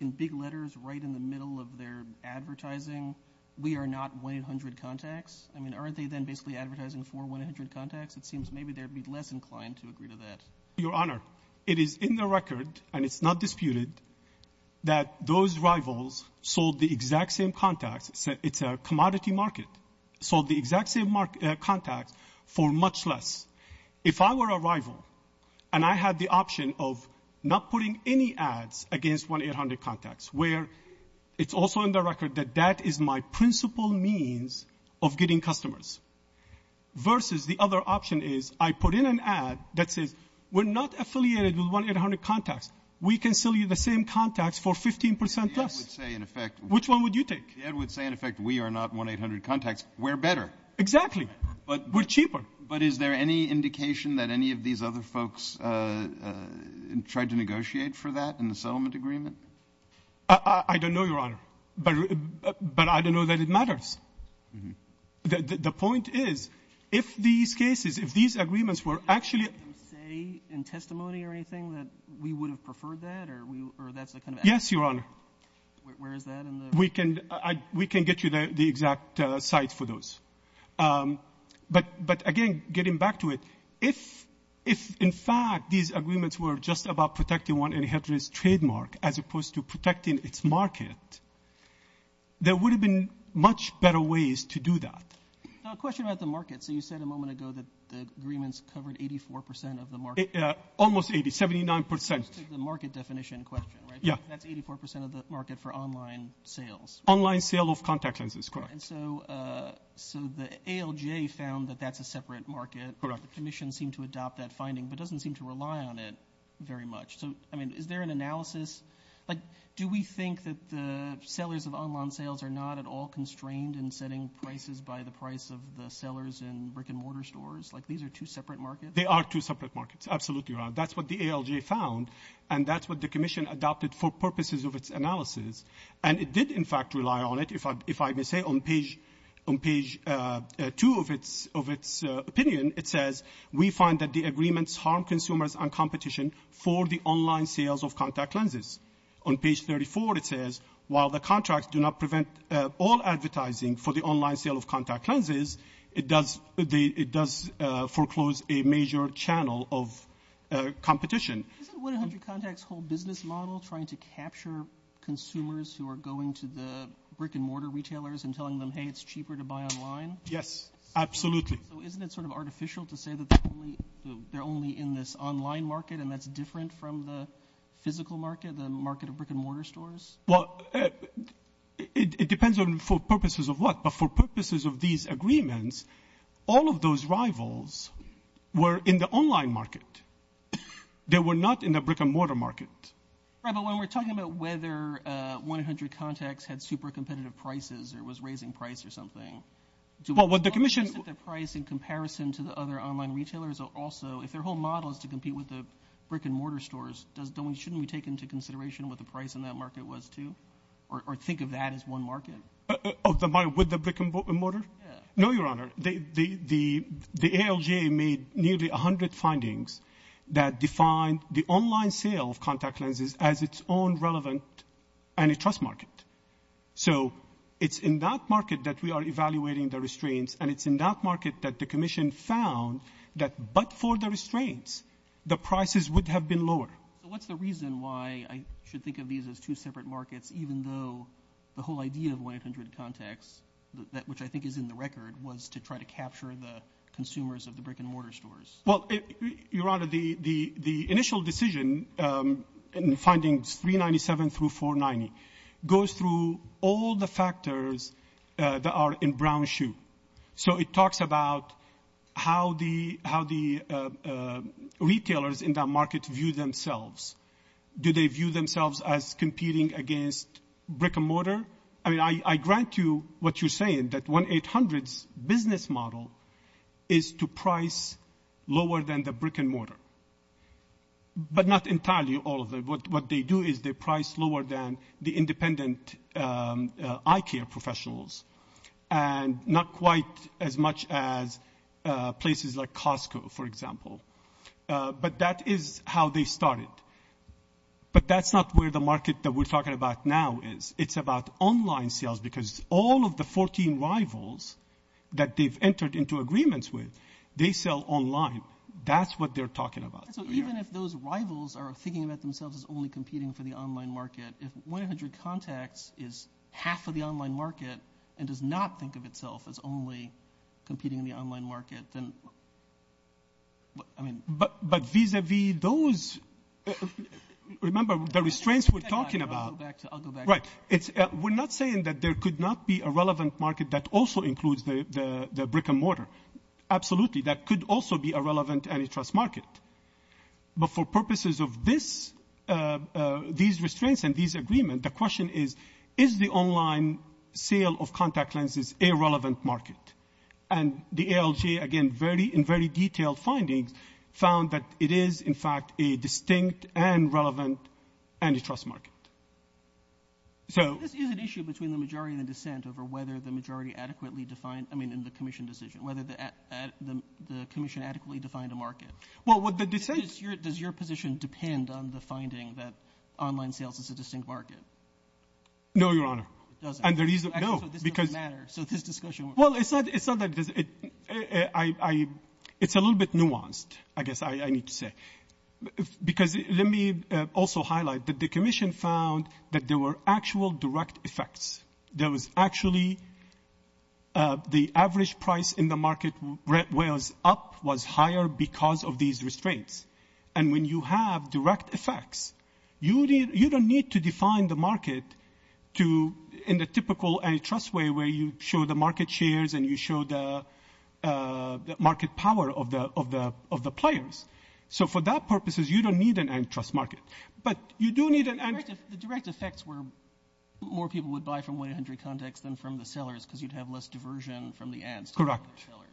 in big letters, right in the middle of their advertising, we are not 1-800 contacts? I mean, aren't they then basically advertising for 1-800 contacts? It seems maybe they'd be less inclined to agree to that. Your Honor, it is in the record, and it's not disputed, that those rivals sold the exact same contacts. It's a commodity market. Sold the exact same contacts for much less. If I were a rival and I had the option of not putting any ads against 1-800 contacts, where it's also in the record that that is my principal means of getting customers, versus the other option is I put in an ad that says, we're not affiliated with 1-800 contacts. We can sell you the same contacts for 15% less. Which one would you take? The ad would say, in effect, we are not 1-800 contacts. We're better. Exactly. We're cheaper. But is there any indication that any of these other folks tried to negotiate for that in the settlement agreement? I don't know, Your Honor. But I don't know that it matters. The point is, if these cases, if these agreements were actually— Would you say in testimony or anything that we would have preferred that? Yes, Your Honor. Where is that? We can get you the exact sites for those. But, again, getting back to it, if, in fact, these agreements were just about protecting 1-800's trademark as opposed to protecting its market, there would have been much better ways to do that. So a question about the market. So you said a moment ago that the agreements covered 84% of the market. Almost 80, 79%. The market definition question, right? Yeah. That's 84% of the market for online sales. Online sale of contact lenses, correct. And so the ALGA found that that's a separate market. Correct. The Commission seemed to adopt that finding but doesn't seem to rely on it very much. So, I mean, is there an analysis? Like, do we think that the sellers of online sales are not at all constrained in setting prices by the price of the sellers in brick-and-mortar stores? Like, these are two separate markets? They are two separate markets. Absolutely, Your Honor. That's what the ALGA found, and that's what the Commission adopted for purposes of its analysis. And it did, in fact, rely on it. If I may say, on page 2 of its opinion, it says, we find that the agreements harm consumers and competition for the online sales of contact lenses. On page 34, it says, while the contracts do not prevent all advertising for the online sale of contact lenses, it does foreclose a major channel of competition. Isn't 100 Contacts' whole business model trying to capture consumers who are going to the brick-and-mortar retailers and telling them, hey, it's cheaper to buy online? Yes, absolutely. Isn't it sort of artificial to say that they're only in this online market and that's different from the physical market, the market of brick-and-mortar stores? Well, it depends on for purposes of what. But for purposes of these agreements, all of those rivals were in the online market. They were not in the brick-and-mortar market. Right, but when we're talking about whether 100 Contacts had super competitive prices or was raising price or something, isn't the price in comparison to the other online retailers also, if their whole model is to compete with the brick-and-mortar stores, shouldn't we take into consideration what the price in that market was, too, or think of that as one market? With the brick-and-mortar? No, Your Honor. The ALGA made nearly 100 findings that defined the online sale of Contact Lenses as its own relevant antitrust market. So it's in that market that we are evaluating the restraints, and it's in that market that the Commission found that but for the restraints, the prices would have been lower. What's the reason why I should think of these as two separate markets, even though the whole idea of 100 Contacts, which I think is in the record, was to try to capture the consumers of the brick-and-mortar stores? Well, Your Honor, the initial decision in the findings 397 through 490 goes through all the factors that are in brown shoe. So it talks about how the retailers in that market view themselves. Do they view themselves as competing against brick-and-mortar? Your Honor, I grant you what you're saying, that 1-800's business model is to price lower than the brick-and-mortar, but not entirely all of it. What they do is they price lower than the independent eye care professionals and not quite as much as places like Costco, for example. But that is how they started. But that's not where the market that we're talking about now is. It's about online sales because all of the 14 rivals that they've entered into agreements with, they sell online. That's what they're talking about. Even if those rivals are thinking about themselves as only competing for the online market, if 1-800 Contacts is half of the online market and does not think of itself as only competing in the online market, then... But vis-à-vis those... Remember, the restraints we're talking about... Right. We're not saying that there could not be a relevant market that also includes the brick-and-mortar. Absolutely, that could also be a relevant antitrust market. But for purposes of these restraints and these agreements, the question is, is the online sale of contact lenses a relevant market? And the ALJ, again, in very detailed findings, found that it is, in fact, a distinct and relevant antitrust market. So... Is it an issue between the majority and the dissent over whether the majority adequately defined... I mean, in the commission decision, whether the commission adequately defined a market? Well, what the dissent... Does your position depend on the finding that online sales is a distinct market? No, Your Honor. And the reason... No. So this discussion... Well, it's not that... It's a little bit nuanced, I guess I need to say. Because let me also highlight that the commission found that there were actual direct effects. There was actually... The average price in the market where it was up was higher because of these restraints. And when you have direct effects, you don't need to define the market in the typical antitrust way where you show the market shares and you show the market power of the players. So for that purposes, you don't need an antitrust market. But you do need an... The direct effects were more people would buy from 100 contacts than from the sellers because you'd have less diversion from the ads. Correct.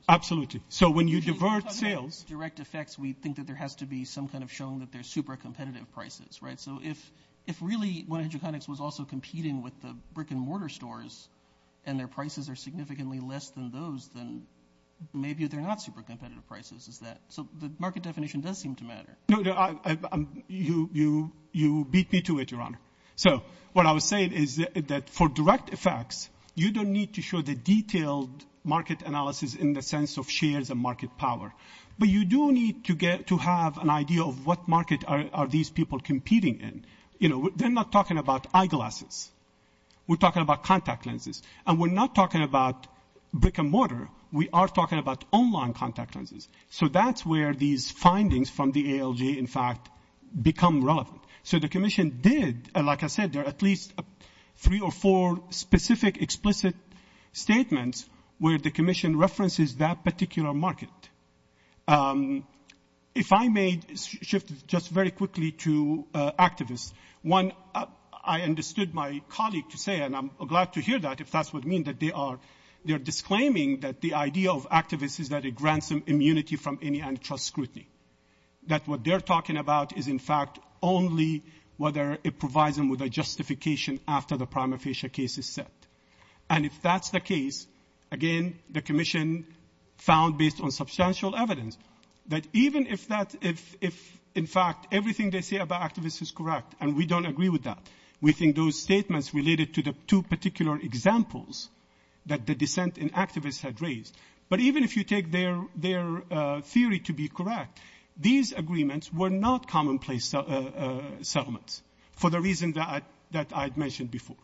Absolutely. So when you divert sales... Direct effects, we think that there has to be some kind of showing that they're super competitive prices, right? So if really 100 Contacts was also competing with the brick-and-mortar stores and their prices are significantly less than those, then maybe they're not super competitive prices. So the market definition does seem to matter. You beat me to it, Your Honor. So what I was saying is that for direct effects, you don't need to show the detailed market analysis in the sense of shares and market power. But you do need to have an idea of what market are these people competing in. You know, they're not talking about eyeglasses. We're talking about contact lenses. And we're not talking about brick-and-mortar. We are talking about online contact lenses. So that's where these findings from the ALJ, in fact, become relevant. So the commission did... Like I said, there are at least three or four specific explicit statements where the commission references that particular market. If I may shift just very quickly to activists, one I understood my colleague to say, and I'm glad to hear that if that's what it means, that they are disclaiming that the idea of activists is that it grants them immunity from any antitrust scrutiny, that what they're talking about is, in fact, only whether it provides them with a justification after the prima facie case is set. And if that's the case, again, the commission found, based on substantial evidence, that even if, in fact, everything they say about activists is correct, and we don't agree with that, we think those statements related to the two particular examples that the dissent in activists had raised. But even if you take their theory to be correct, these agreements were not commonplace settlements for the reasons that I've mentioned before.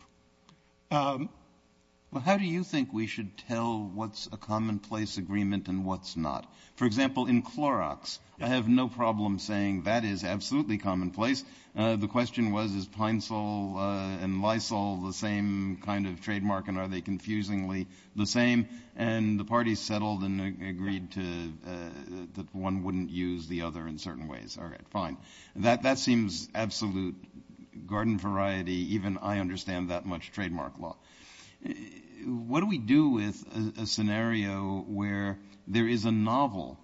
How do you think we should tell what's a commonplace agreement and what's not? For example, in Clorox, I have no problem saying that is absolutely commonplace. The question was, is Pine Sol and Lysol the same kind of trademark and are they confusingly the same? And the parties settled and agreed that one wouldn't use the other in certain ways. All right, fine. That seems absolute garden variety. Even I understand that much trademark law. What do we do with a scenario where there is a novel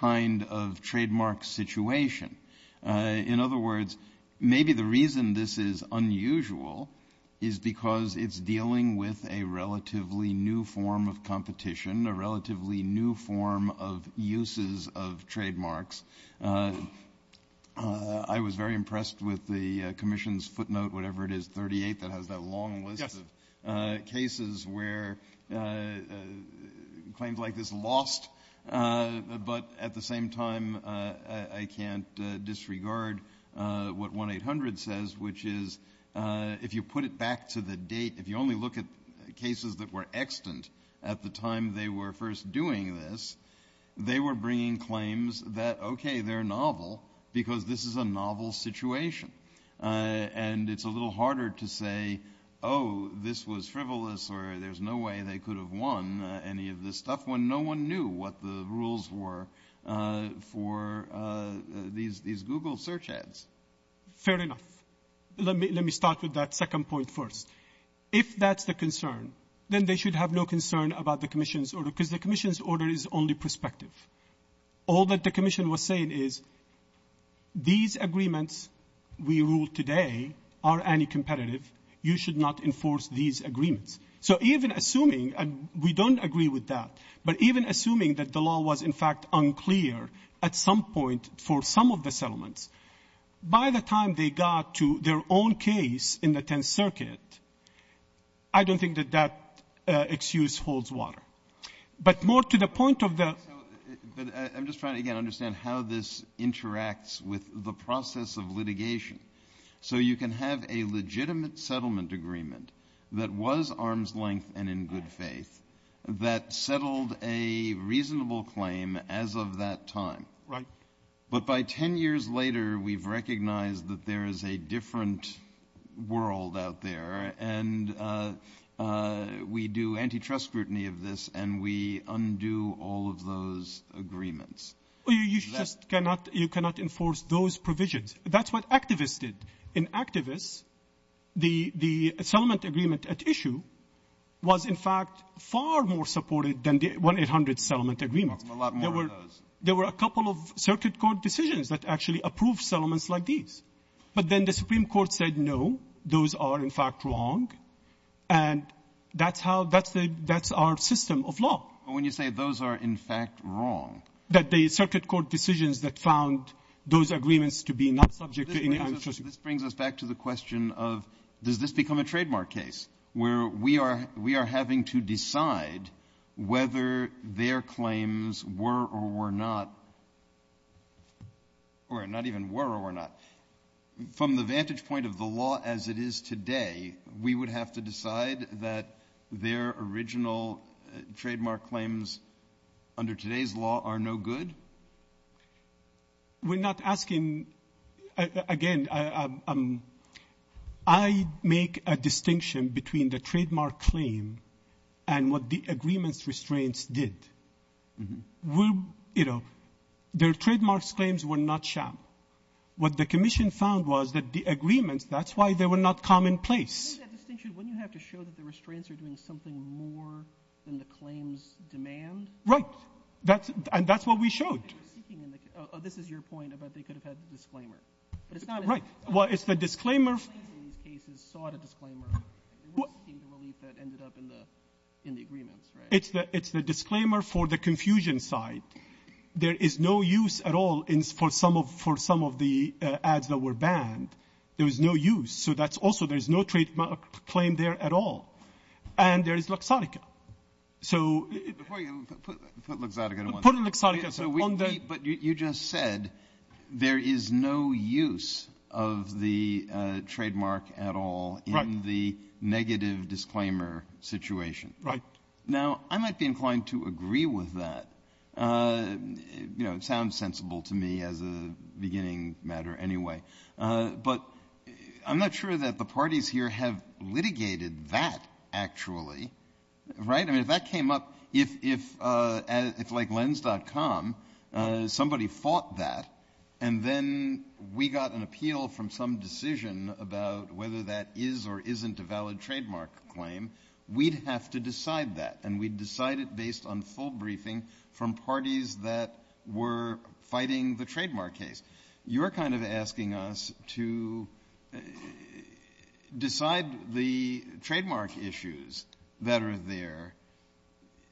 kind of trademark situation? In other words, maybe the reason this is unusual is because it's dealing with a relatively new form of competition, a relatively new form of uses of trademarks. I was very impressed with the commission's footnote, whatever it is, 38, that has a long list of cases where claims like this are lost. But at the same time, I can't disregard what 1-800 says, which is if you put it back to the date, if you only look at cases that were extant at the time they were first doing this, they were bringing claims that, okay, they're novel because this is a novel situation. And it's a little harder to say, oh, this was frivolous or there's no way they could have won any of this stuff when no one knew what the rules were for these Google search ads. Fair enough. Let me start with that second point first. If that's the concern, then they should have no concern about the commission's order because the commission's order is only prospective. All that the commission was saying is these agreements we ruled today are anti-competitive. You should not enforce these agreements. So even assuming, and we don't agree with that, but even assuming that the law was in fact unclear at some point for some of the settlements, by the time they got to their own case in the 10th Circuit, I don't think that that excuse holds water. But more to the point of the... I'm just trying to understand how this interacts with the process of litigation. So you can have a legitimate settlement agreement that was arm's length and in good faith that settled a reasonable claim as of that time. But by 10 years later, we've recognized that there is a different world out there, and we do antitrust scrutiny of this, and we undo all of those agreements. You cannot enforce those provisions. That's what activists did. In activists, the settlement agreement at issue was in fact far more supportive than the 1-800 settlement agreement. A lot more of those. There were a couple of Circuit Court decisions that actually approved settlements like these. But then the Supreme Court said, no, those are in fact wrong, and that's our system of law. When you say those are in fact wrong... That the Circuit Court decisions that found those agreements to be not subject to any antitrust... This brings us back to the question of, does this become a trademark case, where we are having to decide whether their claims were or were not... Or not even were or were not. From the vantage point of the law as it is today, we would have to decide that their original trademark claims under today's law are no good? We're not asking... Again, I make a distinction between the trademark claim and what the agreements restraints did. Their trademark claims were not sharp. What the Commission found was that the agreements, that's why they were not commonplace. I think that distinction is when you have to show that the restraints are doing something more than the claims demand. Right, and that's what we showed. This is your point about they could have had the disclaimer. Right, well, it's the disclaimer... It's the disclaimer for the confusion side. There is no use at all for some of the ads that were banned. There was no use. So that's also, there's no trademark claim there at all. And there's Luxottica. Put Luxottica. But you just said there is no use of the trademark at all in the negative disclaimer situation. Now, I might be inclined to agree with that. It sounds sensible to me as a beginning matter anyway. But I'm not sure that the parties here have litigated that actually. Right? I mean, if that came up, if, like Lens.com, somebody fought that, and then we got an appeal from some decision about whether that is or isn't a valid trademark claim, we'd have to decide that. And we'd decide it based on full briefing from parties that were fighting the trademark case. You're kind of asking us to decide the trademark issues. That are there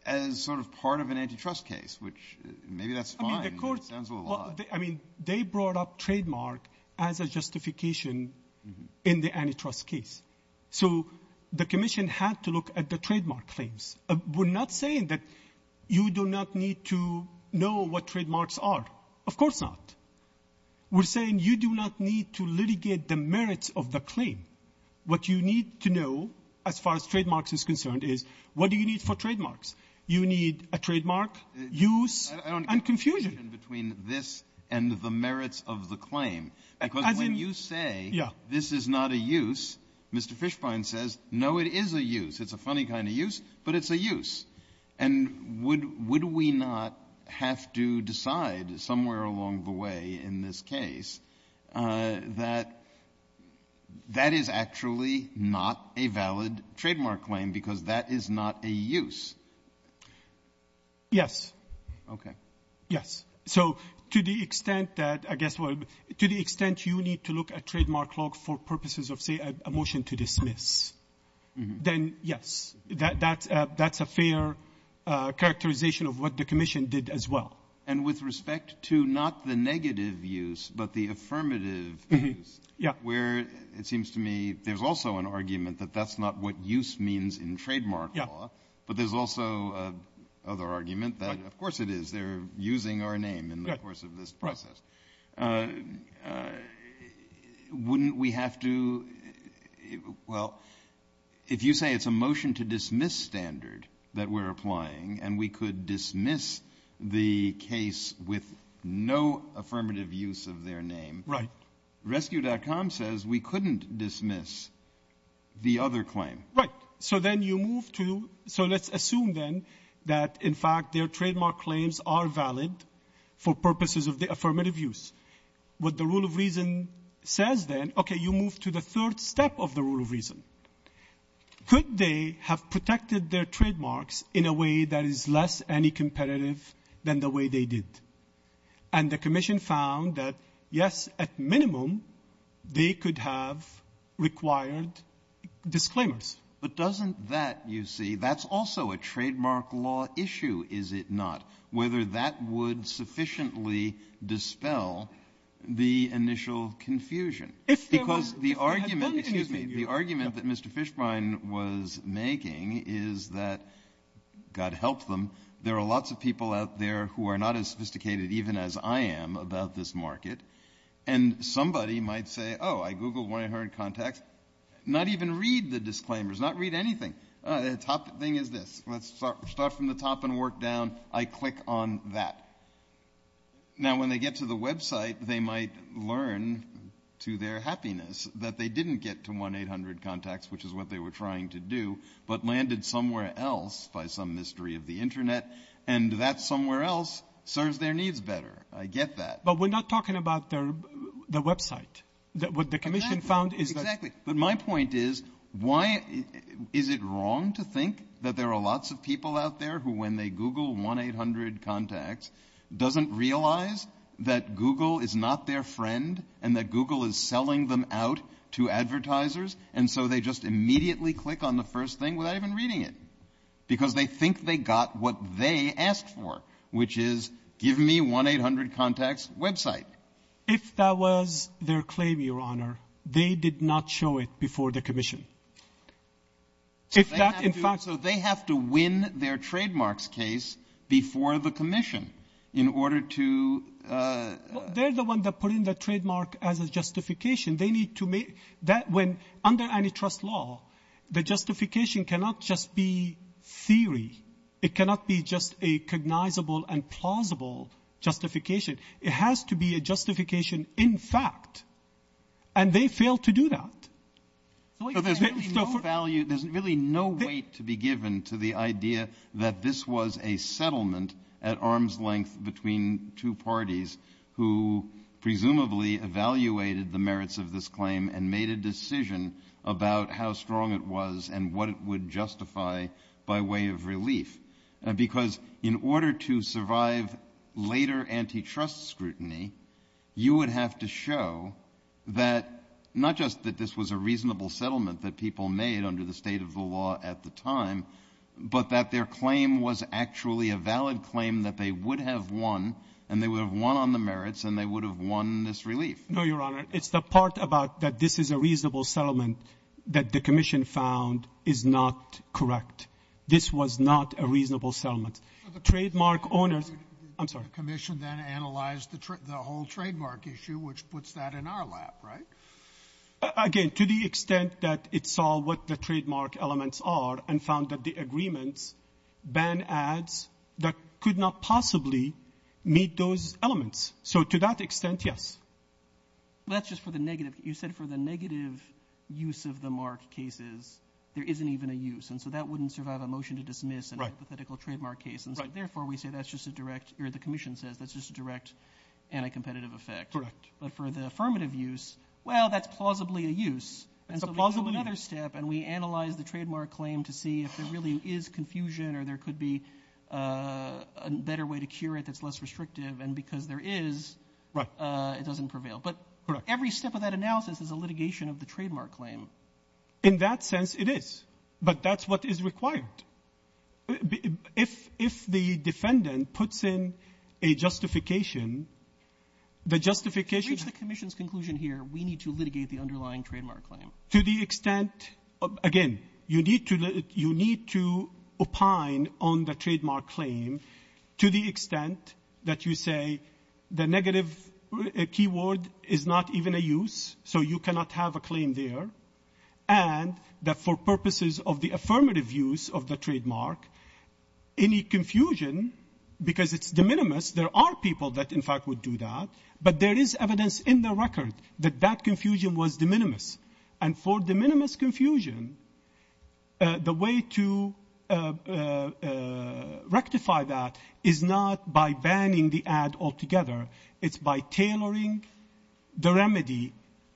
and sort of part of an antitrust case, which maybe that's fine. I mean, they brought up trademark as a justification in the antitrust case. So the commission has to look at the trademark claims. We're not saying that you do not need to know what trademarks are. Of course not. We're saying you do not need to litigate the merits of the claim. What you need to know, as far as trademarks is concerned, is what do you need for trademarks? You need a trademark, use, and confusion. I don't get the difference between this and the merits of the claim. Because when you say this is not a use, Mr. Fishbein says, no, it is a use. It's a funny kind of use, but it's a use. And would we not have to decide somewhere along the way in this case that that is actually not a valid trademark claim because that is not a use? Yes. Okay. Yes. So to the extent that, I guess, to the extent you need to look at trademark law for purposes of, say, a motion to dismiss, then yes. That's a fair characterization of what the commission did as well. And with respect to not the negative use, but the affirmative use, where it seems to me there's also an argument that that's not what use means in trademark law, but there's also another argument that, of course it is. They're using our name in the course of this process. Wouldn't we have to – well, if you say it's a motion to dismiss standard that we're applying and we could dismiss the case with no affirmative use of their name. Right. Rescue.com says we couldn't dismiss the other claim. Right. So then you move to – so let's assume then that, in fact, their trademark claims are valid for purposes of the affirmative use. What the rule of reason says then, okay, you move to the third step of the rule of reason. Could they have protected their trademarks in a way that is less anticompetitive than the way they did? And the commission found that, yes, at minimum, they could have required disclaimers. But doesn't that, you see, that's also a trademark law issue, is it not, whether that would sufficiently dispel the initial confusion? Because the argument that Mr. Fishbein was making is that, God help them, there are lots of people out there who are not as sophisticated even as I am about this market, and somebody might say, oh, I Google when I heard contact, not even read the disclaimers, not read anything. Top thing is this. Let's start from the top and work down. I click on that. Now, when they get to the website, they might learn to their happiness that they didn't get to 1-800-CONTACTS, which is what they were trying to do, but landed somewhere else by some mystery of the Internet, and that somewhere else serves their needs better. I get that. But we're not talking about the website. What the commission found is that my point is why is it wrong to think that there are lots of people out there who when they Google 1-800-CONTACTS doesn't realize that Google is not their friend and that Google is selling them out to advertisers, and so they just immediately click on the first thing without even reading it, because they think they got what they asked for, which is give me 1-800-CONTACTS website. If that was their claim, Your Honor, they did not show it before the commission. So they have to win their trademark's case before the commission in order to... They're the ones that put in the trademark as a justification. They need to make that when under antitrust law, the justification cannot just be theory. It cannot be just a cognizable and plausible justification. It has to be a justification in fact, and they failed to do that. There's really no weight to be given to the idea that this was a settlement at arm's length between two parties who presumably evaluated the merits of this claim and made a decision about how strong it was and what it would justify by way of relief. Because in order to survive later antitrust scrutiny, you would have to show that not just that this was a reasonable settlement that people made under the state of the law at the time, but that their claim was actually a valid claim that they would have won, and they would have won on the merits, and they would have won this relief. No, Your Honor. It's the part about that this is a reasonable settlement that the commission found is not correct. This was not a reasonable settlement. The commission then analyzed the whole trademark issue, which puts that in our lap, right? Again, to the extent that it saw what the trademark elements are and found that the agreement ban ads that could not possibly meet those elements. So to that extent, yes. That's just for the negative. You said for the negative use of the mark cases, there isn't even a use, and so that wouldn't survive a motion to dismiss an hypothetical trademark case. Therefore, we say that's just a direct, or the commission says, that's just a direct anti-competitive effect. But for the affirmative use, well, that's plausibly a use. And so we do another step, and we analyze the trademark claim to see if there really is confusion, or there could be a better way to cure it that's less restrictive, and because there is, it doesn't prevail. But every step of that analysis is a litigation of the trademark claim. In that sense, it is. But that's what is required. If the defendant puts in a justification, the justification... To reach the commission's conclusion here, we need to litigate the underlying trademark claim. To the extent, again, you need to opine on the trademark claim to the extent that you say the negative keyword is not even a use, so you cannot have a claim there, and that for purposes of the affirmative use of the trademark, any confusion, because it's de minimis, there are people that in fact would do that, but there is evidence in the record that that confusion was de minimis. And for de minimis confusion, the way to rectify that is not by banning the ad altogether. It's by tailoring the remedy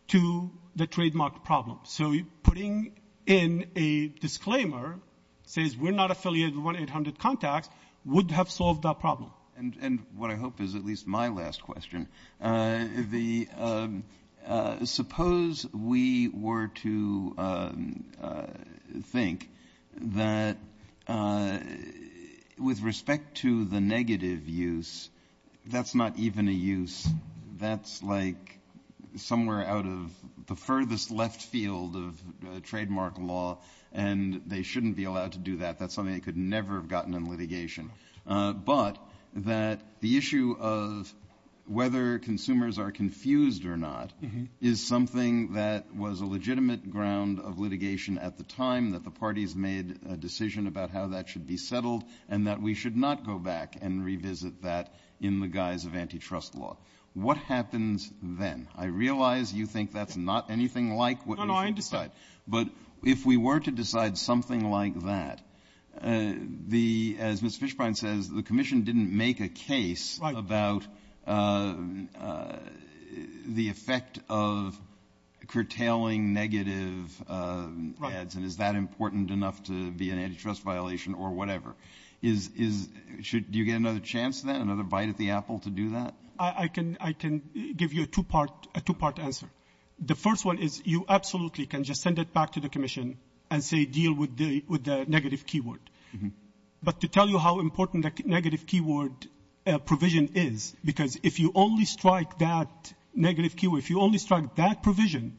to the trademark problem. So putting in a disclaimer that says we're not affiliated with 1-800-CONTACT would have solved that problem. And what I hope is at least my last question. Suppose we were to think that with respect to the negative use, that's not even a use. That's like somewhere out of the furthest left field of trademark law, and they shouldn't be allowed to do that. That's something they could never have gotten in litigation. But that the issue of whether consumers are confused or not is something that was a legitimate ground of litigation at the time, that the parties made a decision about how that should be settled, and that we should not go back and revisit that in the guise of antitrust law. What happens then? I realize you think that's not anything like what you're going to decide, but if we were to decide something like that, as Ms. Fishbein says, the commission didn't make a case about the effect of curtailing negative ads, and is that important enough to be an antitrust violation or whatever. Do you get another chance then, another bite at the apple to do that? I can give you a two-part answer. The first one is you absolutely can just send it back to the commission and say deal with the negative keyword. But to tell you how important the negative keyword provision is, because if you only strike that negative keyword, if you only strike that provision,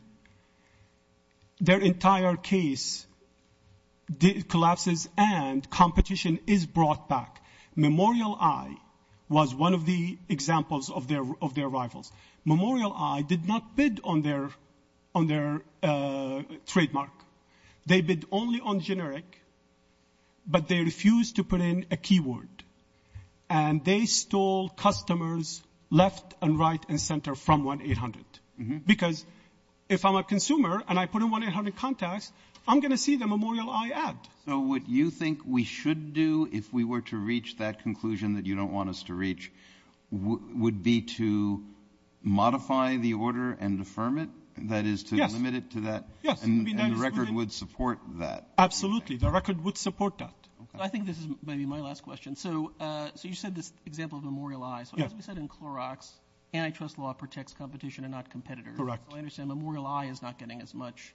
their entire case collapses and competition is brought back. Memorial Eye was one of the examples of their rivals. Memorial Eye did not bid on their trademark. They bid only on generic, but they refused to put in a keyword, and they stole customers left and right and center from 1-800. Because if I'm a consumer and I put in 1-800 contacts, I'm going to see the Memorial Eye ad. So what you think we should do if we were to reach that conclusion that you don't want us to reach would be to modify the order and affirm it, that is to submit it to that, and the record would support that. Absolutely, the record would support that. I think this is maybe my last question. So you said this example of Memorial Eye. So as we said in Clorox, antitrust law protects competition and not competitors. I understand Memorial Eye is not getting as much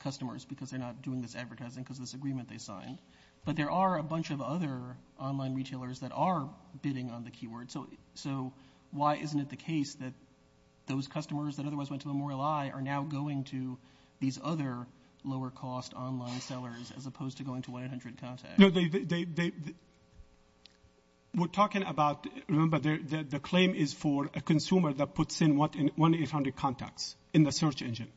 customers because they're not doing this advertising because of this agreement they signed. But there are a bunch of other online retailers that are bidding on the keyword. So why isn't it the case that those customers that otherwise went to Memorial Eye are now going to these other lower-cost online sellers as opposed to going to 1-800 contacts? No, we're talking about, remember, the claim is for a consumer that puts in 1-800 contacts in the search engine.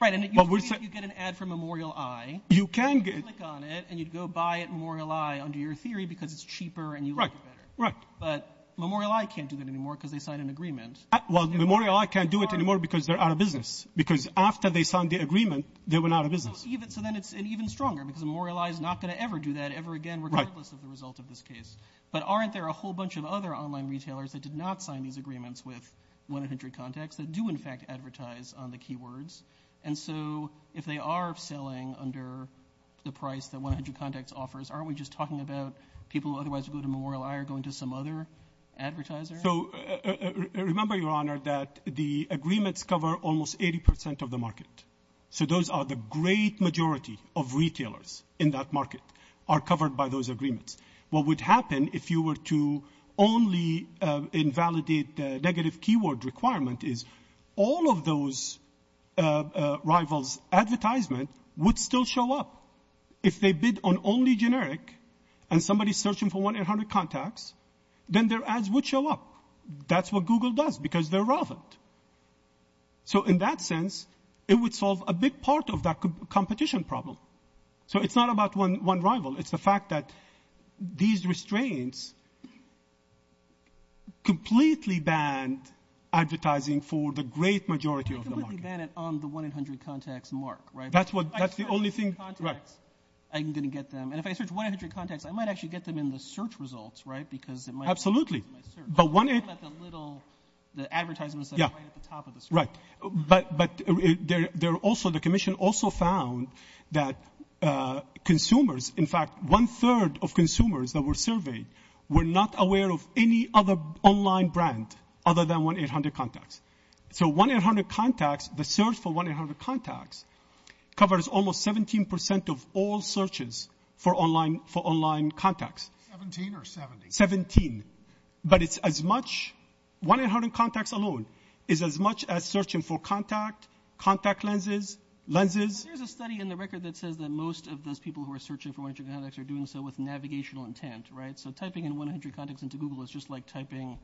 Right, and you get an ad for Memorial Eye. You can get it. You click on it, and you go buy at Memorial Eye under your theory because it's cheaper and you like it better. But Memorial Eye can't do that anymore because they signed an agreement. Well, Memorial Eye can't do it anymore because they're out of business because after they signed the agreement, they went out of business. So then it's even stronger because Memorial Eye is not going to ever do that ever again regardless of the result of this case. But aren't there a whole bunch of other online retailers that did not sign these agreements with 1-800 contacts that do, in fact, advertise on the keywords? And so if they are selling under the price that 1-800 contacts offers, aren't we just talking about people who otherwise go to Memorial Eye are going to some other advertiser? So remember, Your Honor, that the agreements cover almost 80% of the market. So those are the great majority of retailers in that market are covered by those agreements. What would happen if you were to only invalidate the negative keyword requirement is all of those rivals' advertisements would still show up. If they bid on only generic and somebody's searching for 1-800 contacts, then their ads would show up. That's what Google does because they're relevant. So in that sense, it would solve a big part of that competition problem. So it's not about one rival. It's the fact that these restraints completely ban advertising for the great majority of the market. Completely ban it on the 1-800 contacts mark, right? That's the only thing. I'm going to get them. And if I search 1-800 contacts, I might actually get them in the search results, right? Absolutely. The advertisements are right at the top of the search. Right, but the commission also found that consumers, in fact, one-third of consumers that were surveyed were not aware of any other online brand other than 1-800 contacts. So 1-800 contacts, the search for 1-800 contacts, covers almost 17% of all searches for online contacts. Seventeen or seventy? Seventeen. But it's as much 1-800 contacts alone is as much as searching for contact, contact lenses, lenses. There's a study in the record that says that most of those people who are searching for 1-800 contacts are doing so with navigational intent, right? So typing in 1-800 contacts into Google is just like typing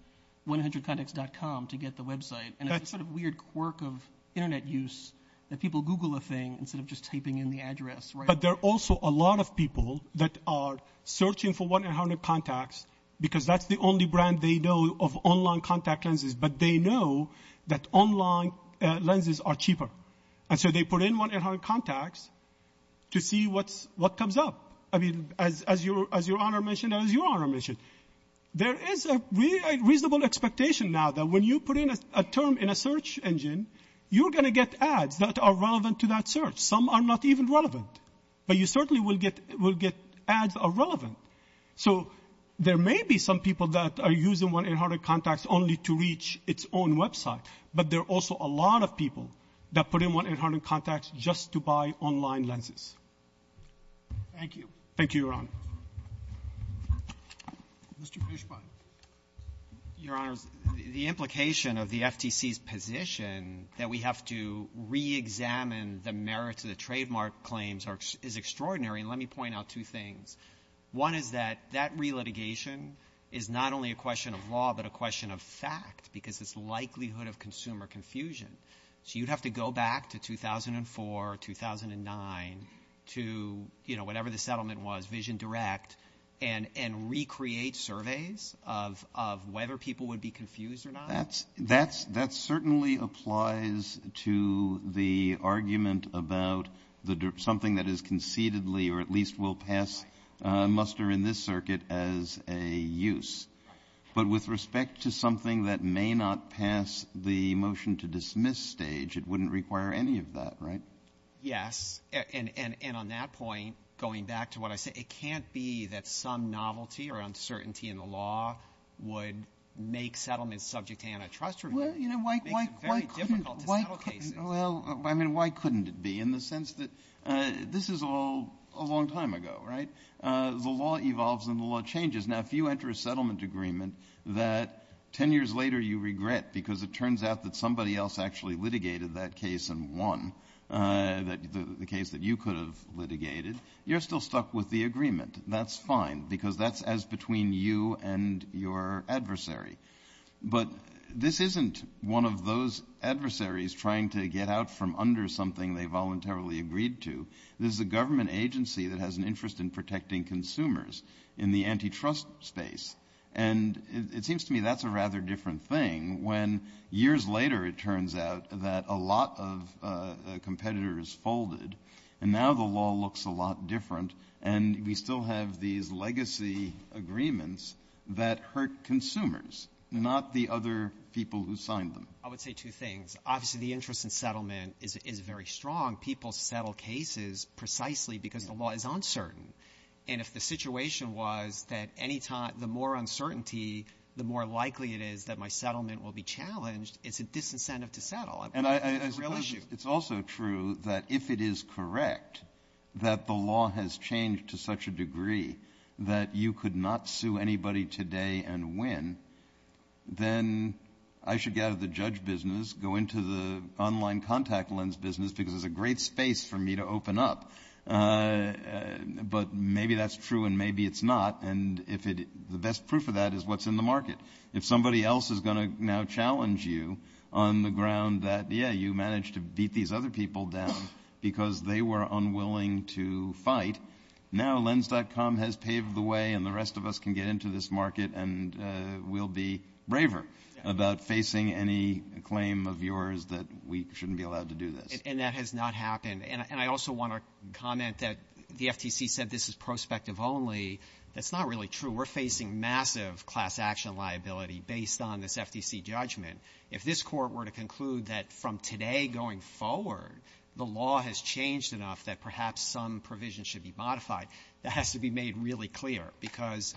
100contacts.com to get the website. And that's sort of weird quirk of Internet use that people Google a thing instead of just typing in the address, right? But there are also a lot of people that are searching for 1-800 contacts because that's the only brand they know of online contact lenses, but they know that online lenses are cheaper. And so they put in 1-800 contacts to see what comes up. I mean, as your Honor mentioned and as your Honor mentioned, there is a reasonable expectation now that when you put in a term in a search engine, you're going to get ads that are relevant to that search. Some are not even relevant, but you certainly will get ads are relevant. So there may be some people that are using 1-800 contacts only to reach its own website, but there are also a lot of people that put in 1-800 contacts just to buy online lenses. Thank you, Your Honor. Mr. Cushman. Your Honor, the implication of the FTC's position that we have to reexamine the merits of the trademark claims is extraordinary. And let me point out two things. One is that that relitigation is not only a question of law, but a question of fact because it's the likelihood of consumer confusion. So you have to go back to 2004, 2009, to whatever the settlement was, Vision Direct, and recreate surveys of whether people would be confused or not? That certainly applies to the argument about something that is concededly or at least will pass muster in this circuit as a use. But with respect to something that may not pass the motion to dismiss stage, it wouldn't require any of that, right? Yes. And on that point, going back to what I said, it can't be that some novelty or uncertainty in the law would make settlement subject to antitrust review. Why couldn't it be in the sense that this is all a long time ago, right? The law evolves and the law changes. Now, if you enter a settlement agreement that 10 years later you regret because it turns out that somebody else actually litigated that case and won, the case that you could have litigated, you're still stuck with the agreement. That's fine because that's as between you and your adversary. But this isn't one of those adversaries trying to get out from under something they voluntarily agreed to. This is a government agency that has an interest in protecting consumers in the antitrust space. And it seems to me that's a rather different thing when years later it turns out that a lot of competitors folded and now the law looks a lot different and we still have these legacy agreements that hurt consumers, not the other people who signed them. I would say two things. Obviously, the interest in settlement is very strong. People settle cases precisely because the law is uncertain. And if the situation was that the more uncertainty, the more likely it is that my settlement will be challenged, it's a disincentive to settle. It's also true that if it is correct that the law has changed to such a degree that you could not sue anybody today and win, then I should get out of the judge business, go into the online contact lens business because it's a great space for me to open up. But maybe that's true and maybe it's not. And the best proof of that is what's in the market. If somebody else is going to now challenge you on the ground that, yeah, you managed to beat these other people down because they were unwilling to fight, now lens.com has paved the way and the rest of us can get into this market and we'll be braver about facing any claim of yours that we shouldn't be allowed to do this. And that has not happened. And I also want to comment that the FCC said this is prospective only. That's not really true. We're facing massive class action liability based on this FCC judgment. If this court were to conclude that from today going forward the law has changed enough that perhaps some provisions should be modified, that has to be made really clear because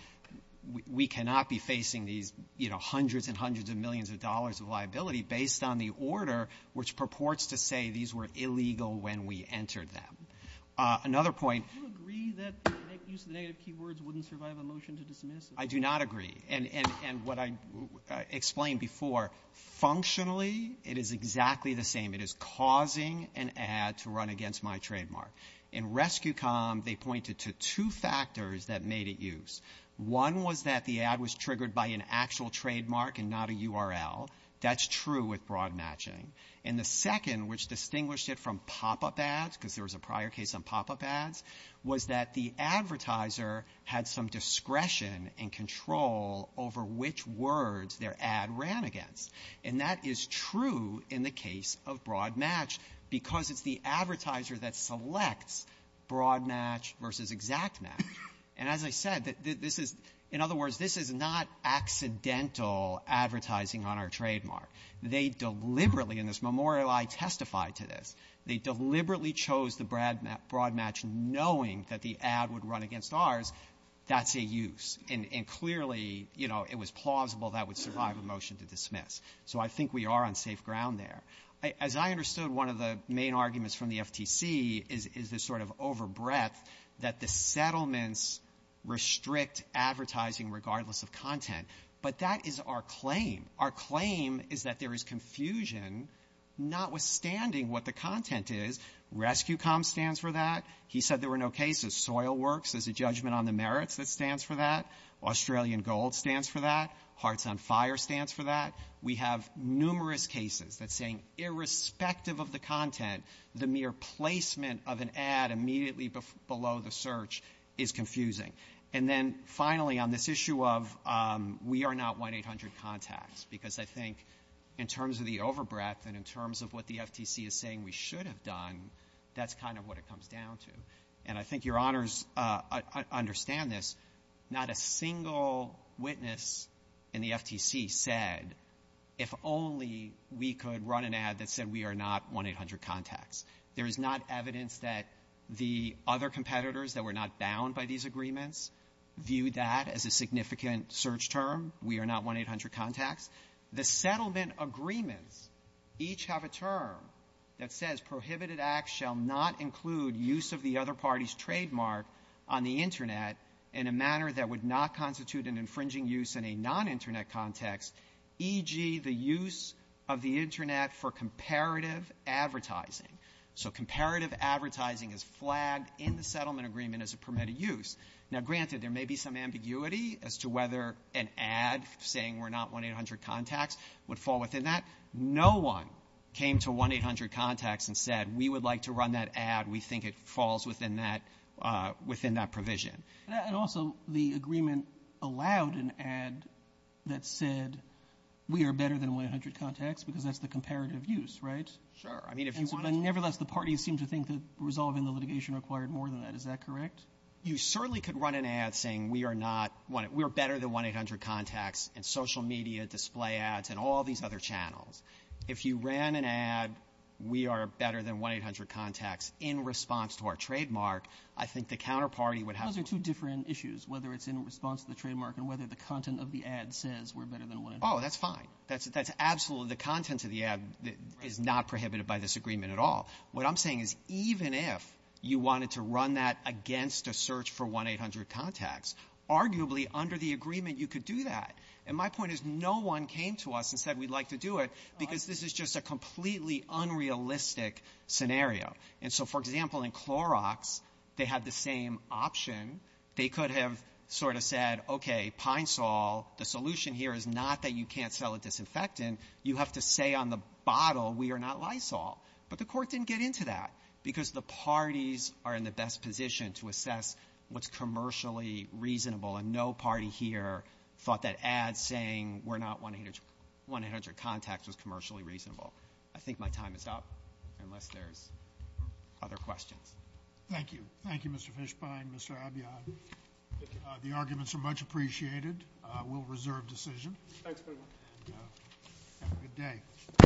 we cannot be facing these hundreds and hundreds of millions of dollars of liability based on the order which purports to say these were illegal when we entered them. Another point. Do you agree that the use of negative keywords wouldn't survive a motion to dismiss it? I do not agree. And what I explained before, functionally it is exactly the same. It is causing an ad to run against my trademark. In Rescue.com they pointed to two factors that made it use. One was that the ad was triggered by an actual trademark and not a URL. That's true with broad matching. And the second which distinguished it from pop-up ads because there was a prior case on pop-up ads was that the advertiser had some discretion and control over which words their ad ran against. And that is true in the case of broad match because it's the advertiser that selects broad match versus exact match. And as I said, in other words, this is not accidental advertising on our trademark. They deliberately in this memorial I testified to this. They deliberately chose the broad match knowing that the ad would run against ours. That's a use. And clearly, you know, it was plausible that would survive a motion to dismiss. So I think we are on safe ground there. As I understood one of the main arguments from the FTC is this sort of over breadth that the settlements restrict advertising regardless of content. But that is our claim. Our claim is that there is confusion notwithstanding what the content is. Rescue.com stands for that. He said there were no cases. Soilworks is a judgment on the merits that stands for that. Australian Gold stands for that. Hearts on Fire stands for that. We have numerous cases that saying irrespective of the content, the mere placement of an ad immediately below the search is confusing. And then finally on this issue of we are not 1-800 contacts because I think in terms of the over breadth and in terms of what the FTC is saying we should have done, that's kind of what it comes down to. And I think your honors understand this. Not a single witness in the FTC said if only we could run an ad that said we are not 1-800 contacts. There is not evidence that the other competitors that were not bound by these agreements view that as a significant search term. We are not 1-800 contacts. The settlement agreements each have a term that says prohibited acts shall not include use of the other party's trademark on the Internet in a manner that would not constitute an infringing use in a non-Internet context, e.g. the use of the Internet for comparative advertising. So comparative advertising is flagged in the settlement agreement as a permitted use. Now granted there may be some ambiguity as to whether an ad saying we're not 1-800 contacts would fall within that. No one came to 1-800 contacts and said we would like to run that ad. We think it falls within that provision. And also the agreement allowed an ad that said we are better than 1-800 contacts because that's the comparative use, right? Sure. Nevertheless, the parties seem to think that resolving the litigation required more than that. Is that correct? You certainly could run an ad saying we are better than 1-800 contacts in social media, display ads, and all these other channels. If you ran an ad we are better than 1-800 contacts in response to our trademark, I think the counterparty would have to – Those are two different issues, whether it's in response to the trademark and whether the content of the ad says we're better than 1-800 contacts. Oh, that's fine. That's absolutely – the content of the ad is not prohibited by this agreement at all. What I'm saying is even if you wanted to run that against a search for 1-800 contacts, arguably under the agreement you could do that. And my point is no one came to us and said we'd like to do it because this is just a completely unrealistic scenario. And so, for example, in Clorox they had the same option. They could have sort of said, okay, Pine Sol, the solution here is not that you can't sell a disinfectant. You have to say on the bottle we are not Lysol. But the court didn't get into that because the parties are in the best position to assess what's commercially reasonable, and no party here thought that ad saying we're not 1-800 contacts was commercially reasonable. I think my time is up unless there are other questions. Thank you. Thank you, Mr. Fishbein, Mr. Abiodun. The arguments are much appreciated. We'll reserve decision. Thanks very much. Good day.